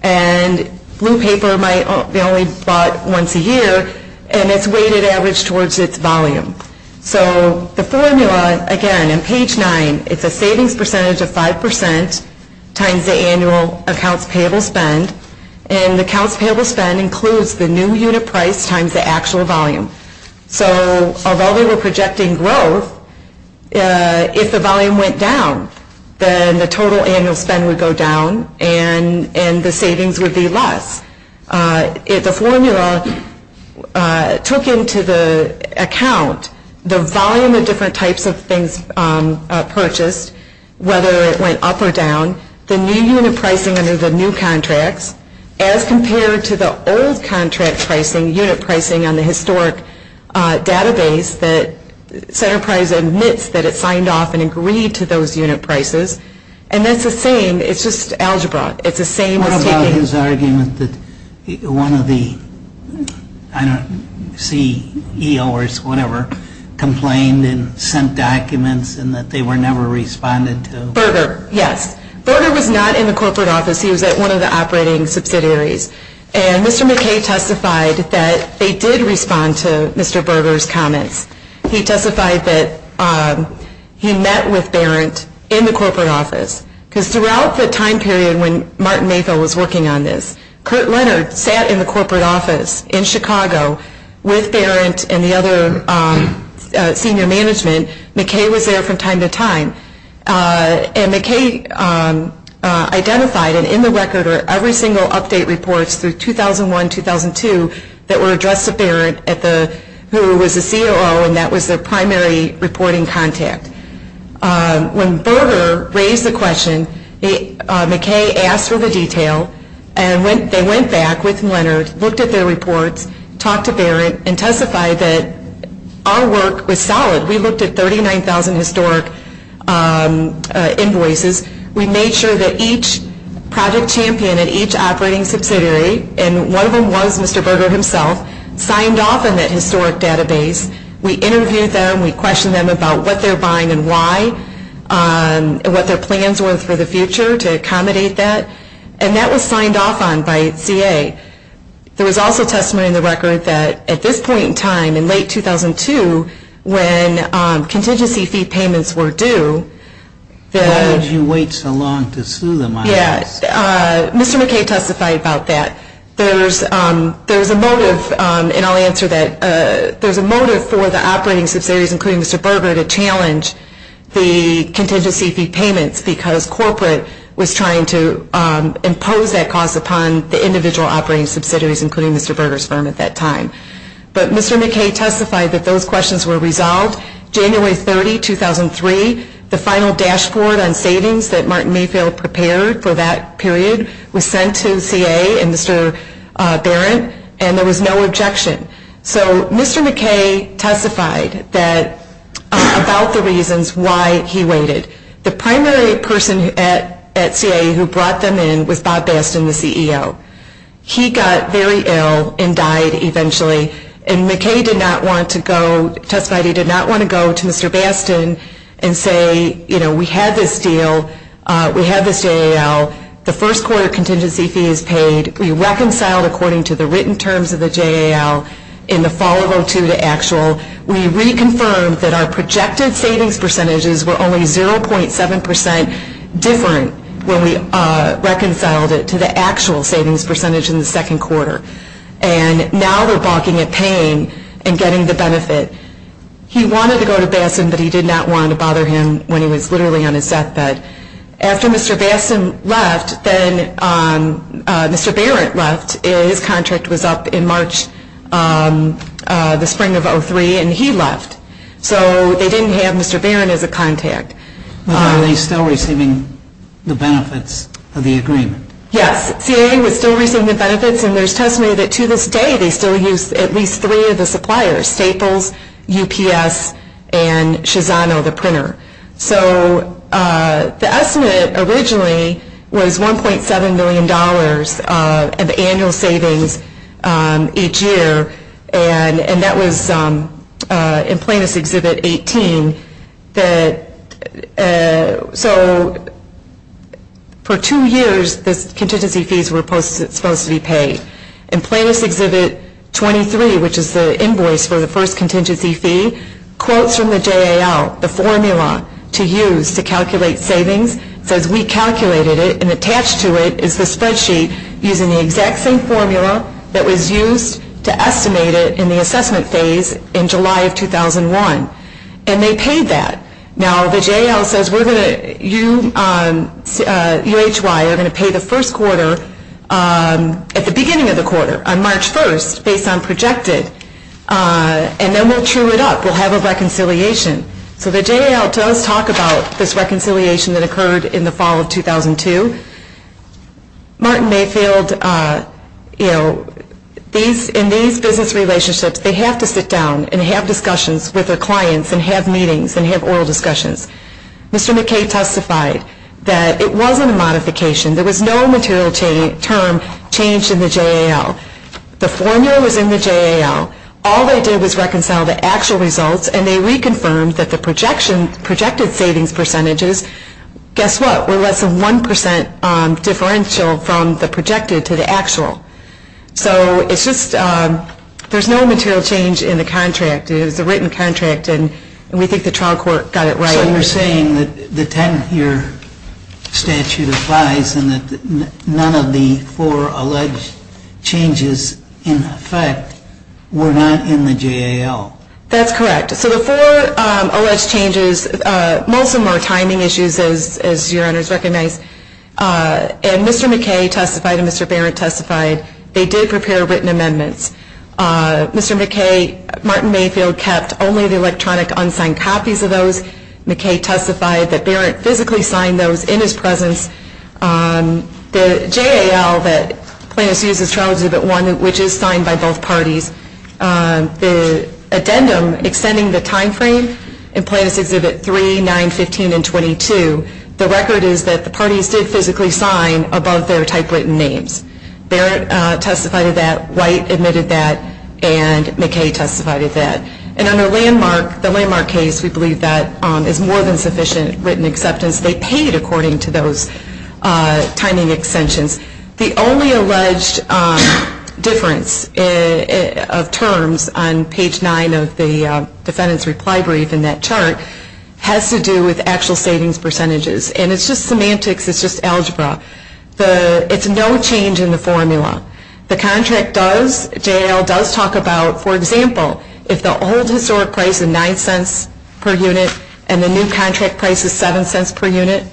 And blue paper might only be bought once a year, and it's weighted average towards its volume. So the formula, again, in page 9, it's a savings percentage of 5% times the annual accounts payable spend. And the accounts payable spend includes the new unit price times the actual volume. So although they were projecting growth, if the volume went down, then the total annual spend would go down and the savings would be less. The formula took into account the volume of different types of things purchased, whether it went up or down, the new unit pricing under the new contracts, as compared to the old contract pricing, unit pricing on the historic database that Centerprise admits that it signed off and agreed to those unit prices. And that's the same, it's just algebra. It's the same as taking... What about his argument that one of the, I don't see EO or whatever, complained and sent documents and that they were never responded to? Berger, yes. Berger was not in the corporate office. He was at one of the operating subsidiaries. And Mr. McKay testified that they did respond to Mr. Berger's comments. He testified that he met with Berent in the corporate office. Because throughout the time period when Martin Mayfield was working on this, Kurt Leonard sat in the corporate office in Chicago with Berent and the other senior management. McKay was there from time to time. And McKay identified, and in the record are every single update reports through 2001-2002 that were addressed to Berent, who was the COO, and that was the primary reporting contact. When Berger raised the question, McKay asked for the detail. And they went back with Leonard, looked at their reports, talked to Berent, and testified that our work was solid. We looked at 39,000 historic invoices. We made sure that each project champion at each operating subsidiary, and one of them was Mr. Berger himself, signed off in that historic database. We interviewed them. We questioned them about what they were buying and why, and what their plans were for the future to accommodate that. And that was signed off on by CA. There was also testimony in the record that at this point in time, in late 2002, when contingency fee payments were due. Why would you wait so long to sue them on this? Mr. McKay testified about that. There was a motive, and I'll answer that. There was a motive for the operating subsidiaries, including Mr. Berger, to challenge the contingency fee payments because corporate was trying to impose that cost upon the individual operating subsidiaries, including Mr. Berger's firm at that time. But Mr. McKay testified that those questions were resolved. January 30, 2003, the final dashboard on savings that Martin Mayfield prepared for that period was sent to CA and Mr. Barrett, and there was no objection. So Mr. McKay testified about the reasons why he waited. The primary person at CA who brought them in was Bob Bastin, the CEO. He got very ill and died eventually, and McKay testified he did not want to go to Mr. Bastin and say, you know, we had this deal, we had this JAL, the first quarter contingency fee is paid, we reconciled according to the written terms of the JAL in the fall of 2002 to actual. We reconfirmed that our projected savings percentages were only 0.7 percent different when we reconciled it to the actual savings percentage in the second quarter. And now we're balking at paying and getting the benefit. He wanted to go to Bastin, but he did not want to bother him when he was literally on his deathbed. After Mr. Bastin left, then Mr. Barrett left. His contract was up in March, the spring of 2003, and he left. So they didn't have Mr. Barrett as a contact. But are they still receiving the benefits of the agreement? Yes, CA was still receiving the benefits, and there's testimony that to this day they still use at least three of the suppliers, Staples, UPS, and Shizano, the printer. So the estimate originally was $1.7 million of annual savings each year, and that was in Plaintiffs' Exhibit 18. So for two years the contingency fees were supposed to be paid. In Plaintiffs' Exhibit 23, which is the invoice for the first contingency fee, quotes from the JAL, the formula to use to calculate savings, says we calculated it and attached to it is the spreadsheet using the exact same formula that was used to estimate it in the assessment phase in July of 2001. And they paid that. Now the JAL says you, UHY, are going to pay the first quarter at the beginning of the quarter, on March 1st, based on projected, and then we'll true it up. We'll have a reconciliation. So the JAL does talk about this reconciliation that occurred in the fall of 2002. Martin Mayfield, you know, in these business relationships they have to sit down and have discussions with their clients and have meetings and have oral discussions. Mr. McKay testified that it wasn't a modification. There was no material term changed in the JAL. The formula was in the JAL. All they did was reconcile the actual results, and they reconfirmed that the projected savings percentages, guess what, were less than 1% differential from the projected to the actual. So it's just there's no material change in the contract. It was a written contract, and we think the trial court got it right. So you're saying that the 10-year statute applies and that none of the four alleged changes in effect were not in the JAL? That's correct. So the four alleged changes, most of them are timing issues, as your honors recognize. And Mr. McKay testified and Mr. Barrett testified. They did prepare written amendments. Mr. McKay, Martin Mayfield kept only the electronic unsigned copies of those. McKay testified that Barrett physically signed those in his presence. The JAL that plaintiffs use is Trial Exhibit 1, which is signed by both parties. The addendum extending the time frame in Plaintiffs' Exhibit 3, 9, 15, and 22, the record is that the parties did physically sign above their typewritten names. Barrett testified of that, White admitted that, and McKay testified of that. And on the landmark case, we believe that is more than sufficient written acceptance. They paid according to those timing extensions. The only alleged difference of terms on page 9 of the defendant's reply brief in that chart has to do with actual savings percentages. And it's just semantics. It's just algebra. It's no change in the formula. The contract does, JAL does talk about, for example, if the old historic price is $0.09 per unit and the new contract price is $0.07 per unit,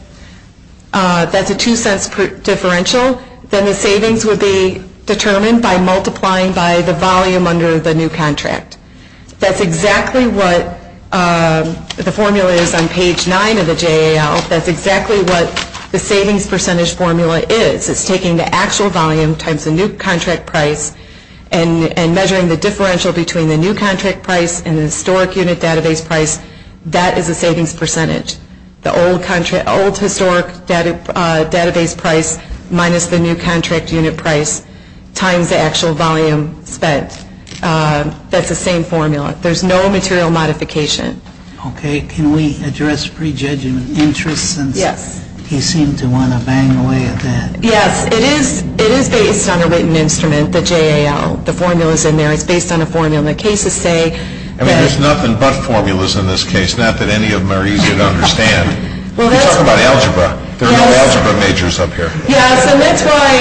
that's a $0.02 differential, then the savings would be determined by multiplying by the volume under the new contract. That's exactly what the formula is on page 9 of the JAL. That's exactly what the savings percentage formula is. It's taking the actual volume times the new contract price and measuring the differential between the new contract price and the historic unit database price. That is the savings percentage. The old historic database price minus the new contract unit price times the actual volume spent. That's the same formula. There's no material modification. Okay. Can we address prejudgment interest since he seemed to want to bang away at that? Yes. It is based on a written instrument, the JAL. The formula's in there. It's based on a formula. The cases say that... I mean, there's nothing but formulas in this case. Not that any of them are easy to understand. You talk about algebra. There are no algebra majors up here. Yes, and that's why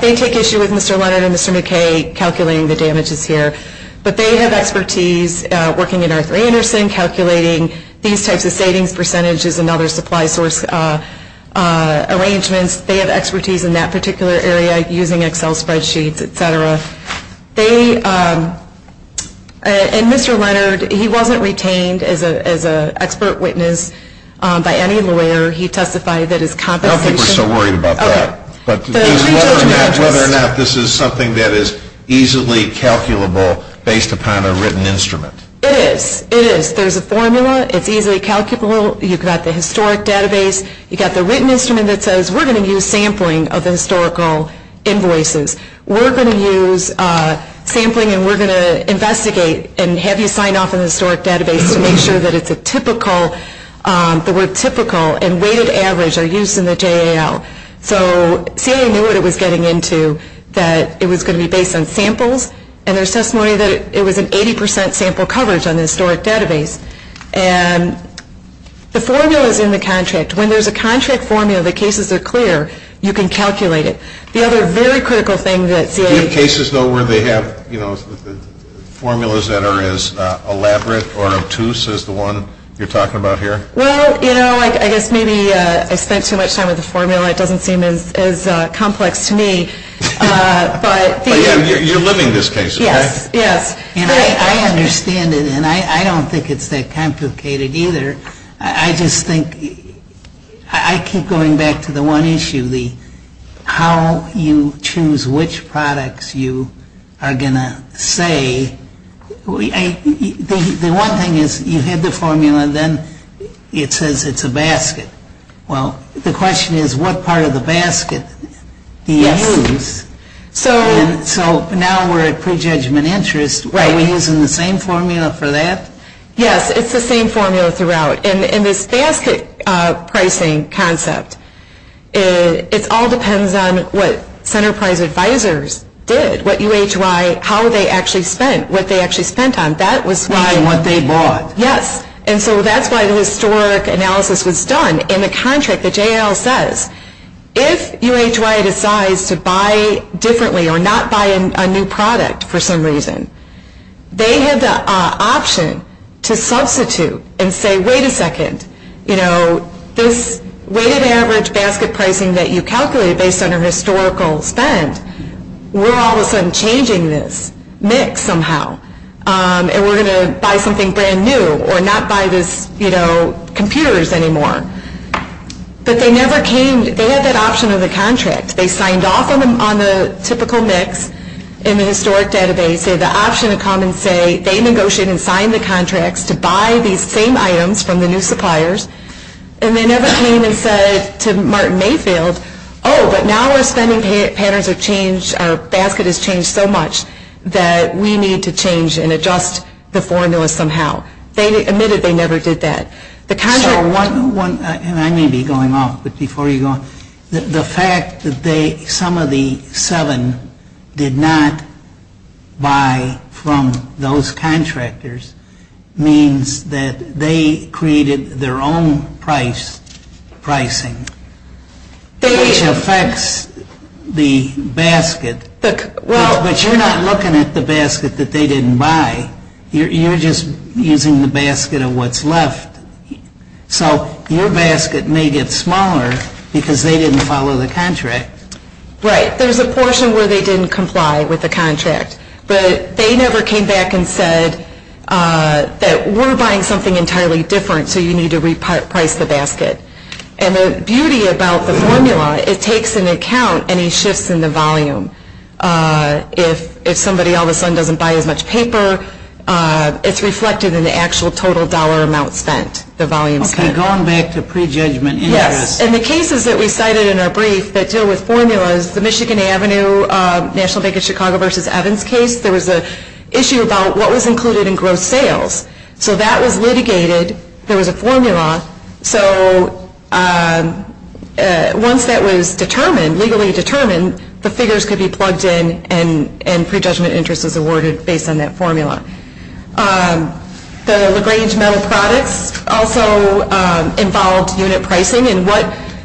they take issue with Mr. Leonard and Mr. McKay calculating the damages here. But they have expertise working at Arthur Anderson, calculating these types of savings percentages and other supply source arrangements. They have expertise in that particular area using Excel spreadsheets, et cetera. And Mr. Leonard, he wasn't retained as an expert witness by any lawyer. He testified that his compensation... I don't think we're so worried about that. Okay. But it's whether or not this is something that is easily calculable based upon a written instrument. It is. It is. There's a formula. It's easily calculable. You've got the historic database. You've got the written instrument that says, we're going to use sampling of the historical invoices. We're going to use sampling and we're going to investigate and have you sign off on the historic database to make sure that it's a typical, the word typical and weighted average are used in the JAL. So CA knew what it was getting into, that it was going to be based on samples, and there's testimony that it was an 80% sample coverage on the historic database. And the formula is in the contract. When there's a contract formula, the cases are clear. You can calculate it. The other very critical thing that CA... Do you have cases, though, where they have, you know, Well, you know, I guess maybe I spent too much time with the formula. It doesn't seem as complex to me, but... But, yeah, you're living this case, okay? Yes, yes. And I understand it, and I don't think it's that complicated either. I just think I keep going back to the one issue, the how you choose which products you are going to say. The one thing is you had the formula, and then it says it's a basket. Well, the question is what part of the basket do you use? So now we're at prejudgment interest. Are we using the same formula for that? Yes, it's the same formula throughout. In this basket pricing concept, it all depends on what Centerprise Advisors did, what UHY, how they actually spent, what they actually spent on. What they bought. Yes, and so that's why the historic analysis was done. In the contract, the JAL says if UHY decides to buy differently or not buy a new product for some reason, they have the option to substitute and say, Wait a second, you know, this weighted average basket pricing that you calculated based on a historical spend, we're all of a sudden changing this mix somehow, and we're going to buy something brand new, or not buy this, you know, computers anymore. But they never came, they had that option of the contract. They signed off on the typical mix in the historic database. They had the option to come and say they negotiated and signed the contracts to buy these same items from the new suppliers, and they never came and said to Martin Mayfield, Oh, but now our spending patterns have changed, our basket has changed so much that we need to change and adjust the formula somehow. They admitted they never did that. So one, and I may be going off, but before you go on, the fact that some of the seven did not buy from those contractors means that they created their own price, pricing. Which affects the basket. But you're not looking at the basket that they didn't buy, you're just using the basket of what's left. So your basket may get smaller because they didn't follow the contract. Right, there's a portion where they didn't comply with the contract, but they never came back and said that we're buying something entirely different, so you need to reprice the basket. And the beauty about the formula, it takes into account any shifts in the volume. If somebody all of a sudden doesn't buy as much paper, it's reflected in the actual total dollar amount spent, the volume spent. Okay, going back to prejudgment interest. Yes, and the cases that we cited in our brief that deal with formulas, the Michigan Avenue National Bank of Chicago v. Evans case, there was an issue about what was included in gross sales. So that was litigated, there was a formula, so once that was determined, legally determined, the figures could be plugged in and prejudgment interest was awarded based on that formula. The LaGrange Metal Products also involved unit pricing and what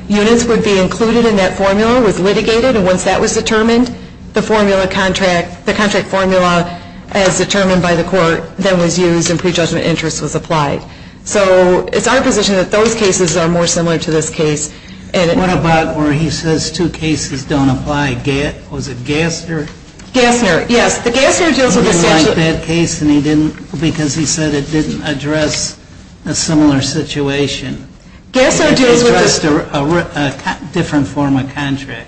units would be included in that formula was litigated and once that was determined, the formula contract, the contract formula as determined by the court, then was used and prejudgment interest was applied. So it's our position that those cases are more similar to this case. What about where he says two cases don't apply? Was it Gassner? Gassner, yes. He didn't like that case because he said it didn't address a similar situation. It addressed a different form of contract.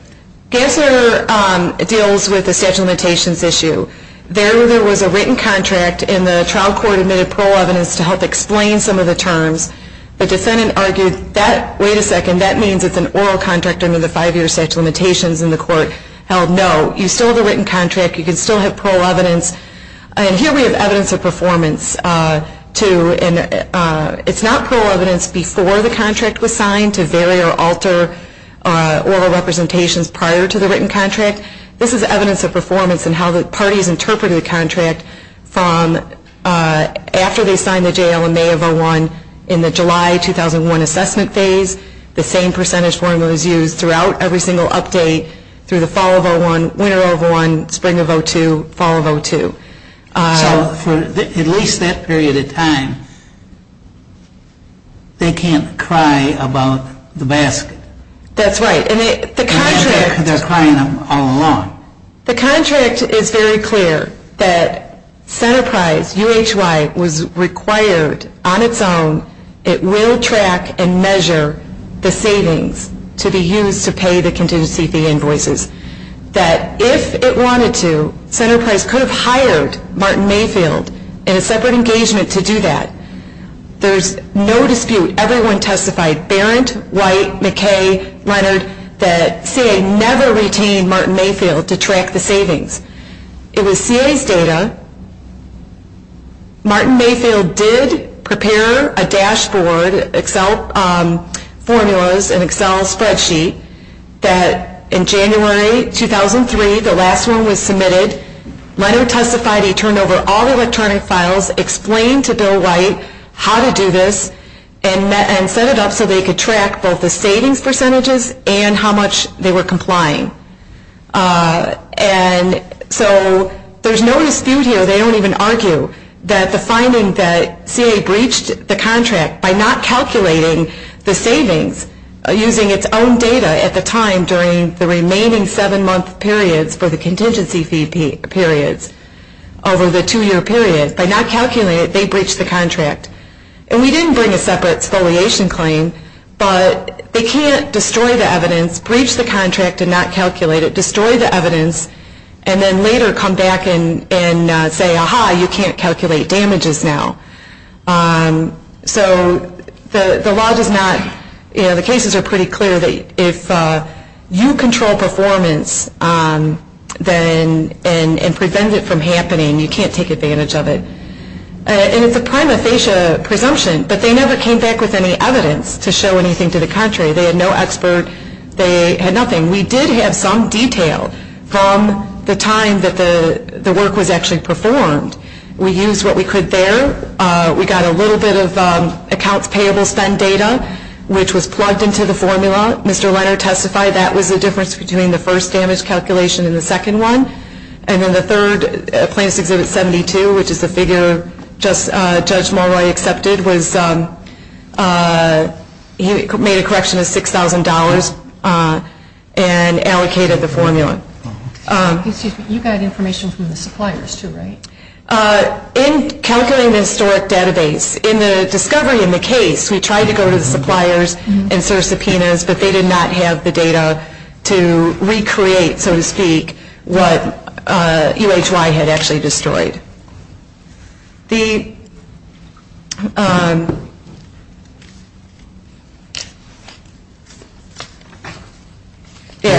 Gassner deals with the statute of limitations issue. There was a written contract and the trial court admitted parole evidence to help explain some of the terms. The defendant argued that, wait a second, that means it's an oral contract under the five-year statute of limitations and the court held no. You still have a written contract. You can still have parole evidence. And here we have evidence of performance too and it's not parole evidence before the contract was signed This is evidence of performance and how the parties interpreted the contract from after they signed the JL in May of 01, in the July 2001 assessment phase, the same percentage formula was used throughout every single update through the fall of 01, winter of 01, spring of 02, fall of 02. So for at least that period of time, they can't cry about the basket. That's right. They're crying all along. The contract is very clear that Centerprise, UHY, was required on its own, it will track and measure the savings to be used to pay the contingency fee invoices, that if it wanted to, Centerprise could have hired Martin Mayfield in a separate engagement to do that. There's no dispute. Everyone testified, Barron, White, McKay, Leonard, that CA never retained Martin Mayfield to track the savings. It was CA's data. Martin Mayfield did prepare a dashboard, Excel formulas, an Excel spreadsheet, that in January 2003, the last one was submitted, Leonard testified he turned over all the electronic files, explained to Bill White how to do this, and set it up so they could track both the savings percentages and how much they were complying. And so there's no dispute here, they don't even argue, that the finding that CA breached the contract by not calculating the savings, using its own data at the time during the remaining seven-month periods for the contingency fee periods, over the two-year period, by not calculating it, they breached the contract. And we didn't bring a separate exfoliation claim, but they can't destroy the evidence, breach the contract and not calculate it, destroy the evidence, and then later come back and say, ah-ha, you can't calculate damages now. So the law does not, you know, the cases are pretty clear that if you control performance, and prevent it from happening, you can't take advantage of it. And it's a prima facie presumption, but they never came back with any evidence to show anything to the country. They had no expert, they had nothing. We did have some detail from the time that the work was actually performed. We used what we could there. We got a little bit of accounts payable spend data, which was plugged into the formula. Mr. Leonard testified that was the difference between the first damage calculation and the second one. And then the third, plaintiff's Exhibit 72, which is the figure Judge Mulroy accepted, he made a correction of $6,000 and allocated the formula. You got information from the suppliers too, right? In calculating the historic database, in the discovery in the case, we tried to go to the suppliers and serve subpoenas, but they did not have the data to recreate, so to speak, what UHY had actually destroyed.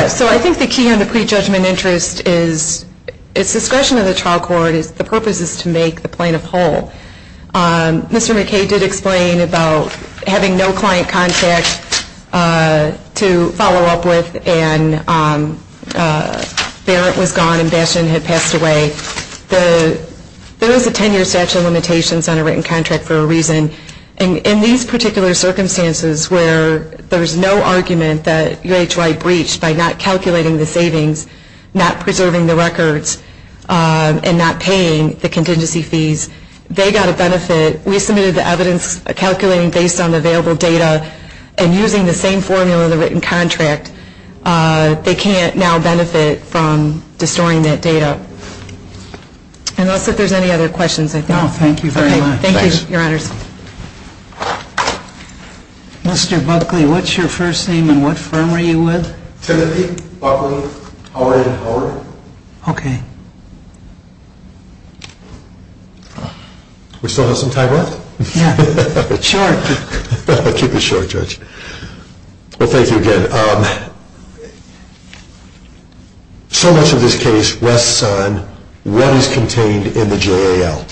So I think the key on the prejudgment interest is it's discretion of the trial court, the purpose is to make the plaintiff whole. Mr. McKay did explain about having no client contact to follow up with, and Barrett was gone and Bashan had passed away. There is a 10-year statute of limitations on a written contract for a reason. In these particular circumstances where there is no argument that UHY breached by not calculating the savings, not preserving the records, and not paying the contingency fees, they got a benefit. We submitted the evidence calculating based on available data and using the same formula of the written contract, they can't now benefit from destroying that data. Unless if there's any other questions, I think. No, thank you very much. Thank you, your honors. Mr. Buckley, what's your first name and what firm are you with? Timothy Buckley Howard & Howard. Okay. We still have some time left? Yeah, sure. I'll keep it short, Judge. Well, thank you again. So much of this case rests on what is contained in the JAL.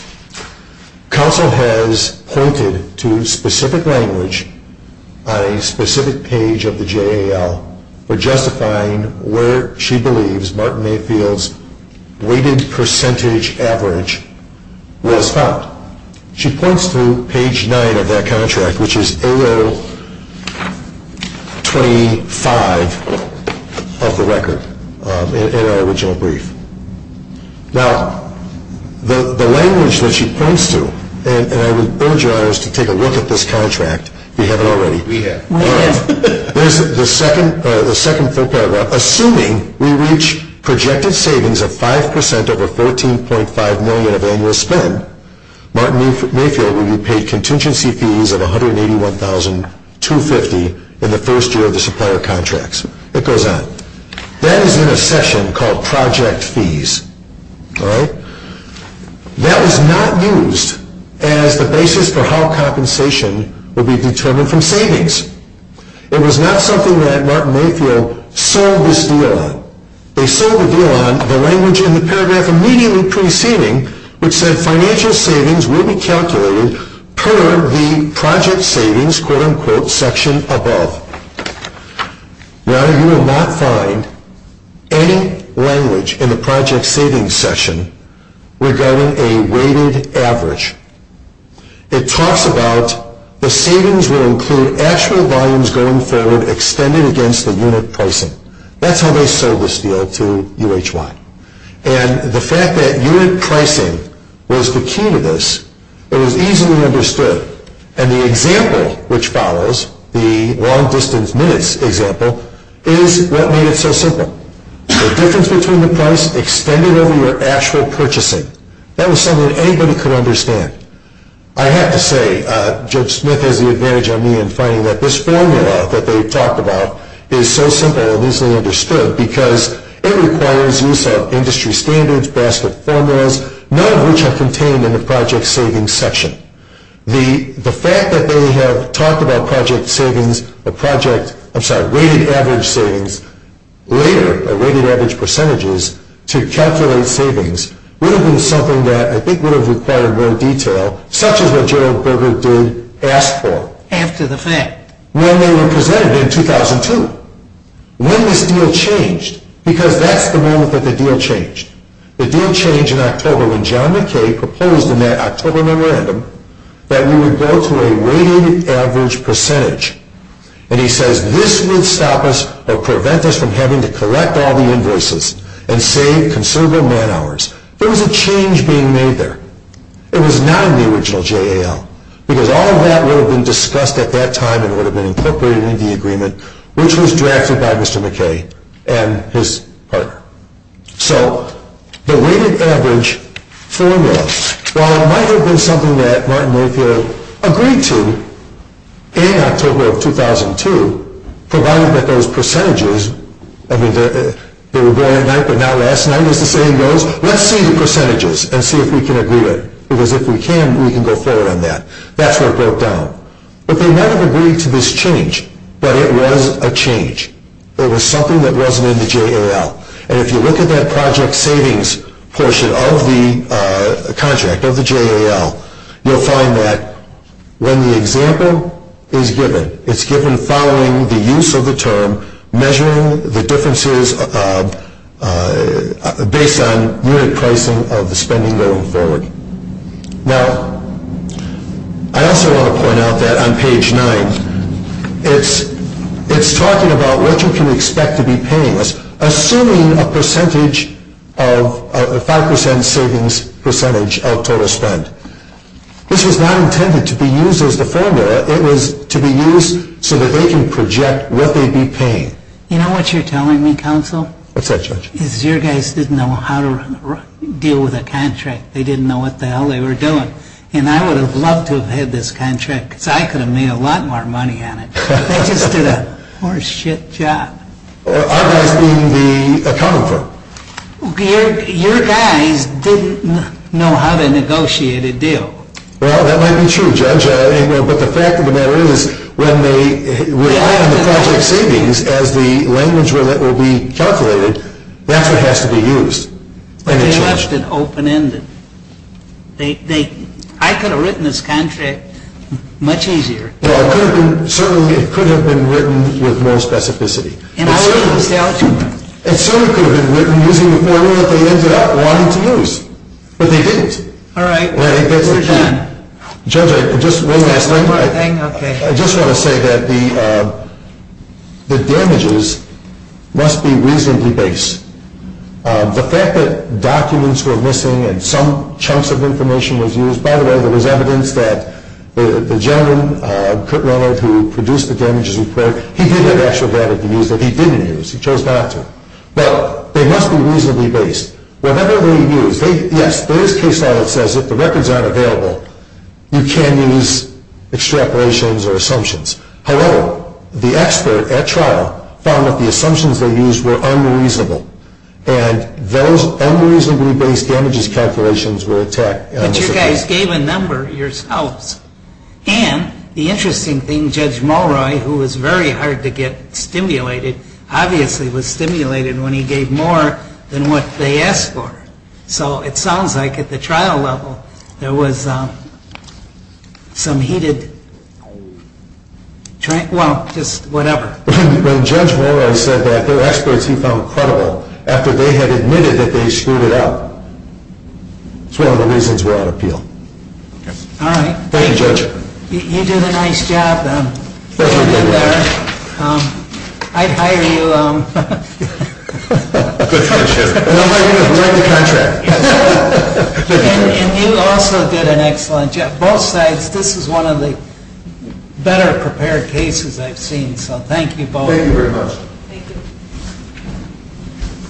Counsel has pointed to specific language on a specific page of the JAL for justifying where she believes Martin Mayfield's weighted percentage average was found. She points to page 9 of that contract, which is AO 25 of the record in our original brief. Now, the language that she points to, and I would urge your honors to take a look at this contract if you haven't already. We have. There's the second full paragraph. Assuming we reach projected savings of 5% over $14.5 million of annual spend, Martin Mayfield will be paid contingency fees of $181,250 in the first year of the supplier contracts. It goes on. That is in a session called Project Fees. That was not used as the basis for how compensation would be determined from savings. It was not something that Martin Mayfield sold this deal on. They sold the deal on the language in the paragraph immediately preceding which said financial savings will be calculated per the project savings quote-unquote section above. Now, you will not find any language in the project savings section regarding a weighted average. It talks about the savings will include actual volumes going forward extended against the unit pricing. That's how they sold this deal to UHY. And the fact that unit pricing was the key to this, it was easily understood. And the example which follows, the long-distance minutes example, is what made it so simple. The difference between the price extended over your actual purchasing. That was something anybody could understand. I have to say, Judge Smith has the advantage on me in finding that this formula that they talked about is so simple and easily understood because it requires use of industry standards, basket formulas, none of which are contained in the project savings section. The fact that they have talked about project savings, a project, I'm sorry, weighted average savings later, a weighted average percentages to calculate savings would have been something that I think would have required more detail such as what Gerald Berger did ask for. After the fact. When they were presented in 2002. When this deal changed, because that's the moment that the deal changed. The deal changed in October when John McKay proposed in that October memorandum that we would go to a weighted average percentage. And he says this would stop us or prevent us from having to collect all the invoices and save considerable man hours. There was a change being made there. It was not in the original JAL because all of that would have been discussed at that time and would have been incorporated into the agreement which was drafted by Mr. McKay and his partner. So the weighted average formula, while it might have been something that Martin Mayfield agreed to in October of 2002, provided that those percentages, I mean they were going at night but now last night, it's the same goes, let's see the percentages and see if we can agree to it. Because if we can, we can go forward on that. That's what broke down. But they might have agreed to this change but it was a change. It was something that wasn't in the JAL. And if you look at that project savings portion of the contract, of the JAL, you'll find that when the example is given, it's given following the use of the term, measuring the differences based on unit pricing of the spending going forward. Now, I also want to point out that on page 9, it's talking about what you can expect to be paying. Assuming a percentage of, a 5% savings percentage of total spend. This was not intended to be used as the formula. It was to be used so that they can project what they'd be paying. You know what you're telling me, Counsel? What's that, Judge? Is your guys didn't know how to deal with a contract. They didn't know what the hell they were doing. And I would have loved to have had this contract because I could have made a lot more money on it. They just did a horse shit job. Our guys being the accounting firm. Your guys didn't know how to negotiate a deal. Well, that might be true, Judge. But the fact of the matter is when they rely on the project savings as the language where that will be calculated, that's what has to be used. But they left it open-ended. I could have written this contract much easier. Well, it could have been written with more specificity. And I wouldn't sell to them. It certainly could have been written using the formula they ended up wanting to use. But they didn't. All right, we're done. Judge, just one last thing. I just want to say that the damages must be reasonably base. The fact that documents were missing and some chunks of information was used. By the way, there was evidence that the gentleman, Kurt Leonard, who produced the damages report, he did have actual data to use that he didn't use. He chose not to. But they must be reasonably base. Whatever they used, yes, there is case law that says if the records aren't available, you can use extrapolations or assumptions. However, the expert at trial found that the assumptions they used were unreasonable. And those unreasonably base damages calculations were attacked. But you guys gave a number yourselves. And the interesting thing, Judge Mulroy, who was very hard to get stimulated, obviously was stimulated when he gave more than what they asked for. So it sounds like at the trial level there was some heated, well, just whatever. When Judge Mulroy said that there were experts he found credible after they had admitted that they screwed it up, it's one of the reasons we're on appeal. All right. Thank you, Judge. You did a nice job. Thank you, Darren. I'd hire you. I'm writing a contract. And you also did an excellent job. Both sides, this is one of the better prepared cases I've seen. So thank you both. Thank you very much. Thank you.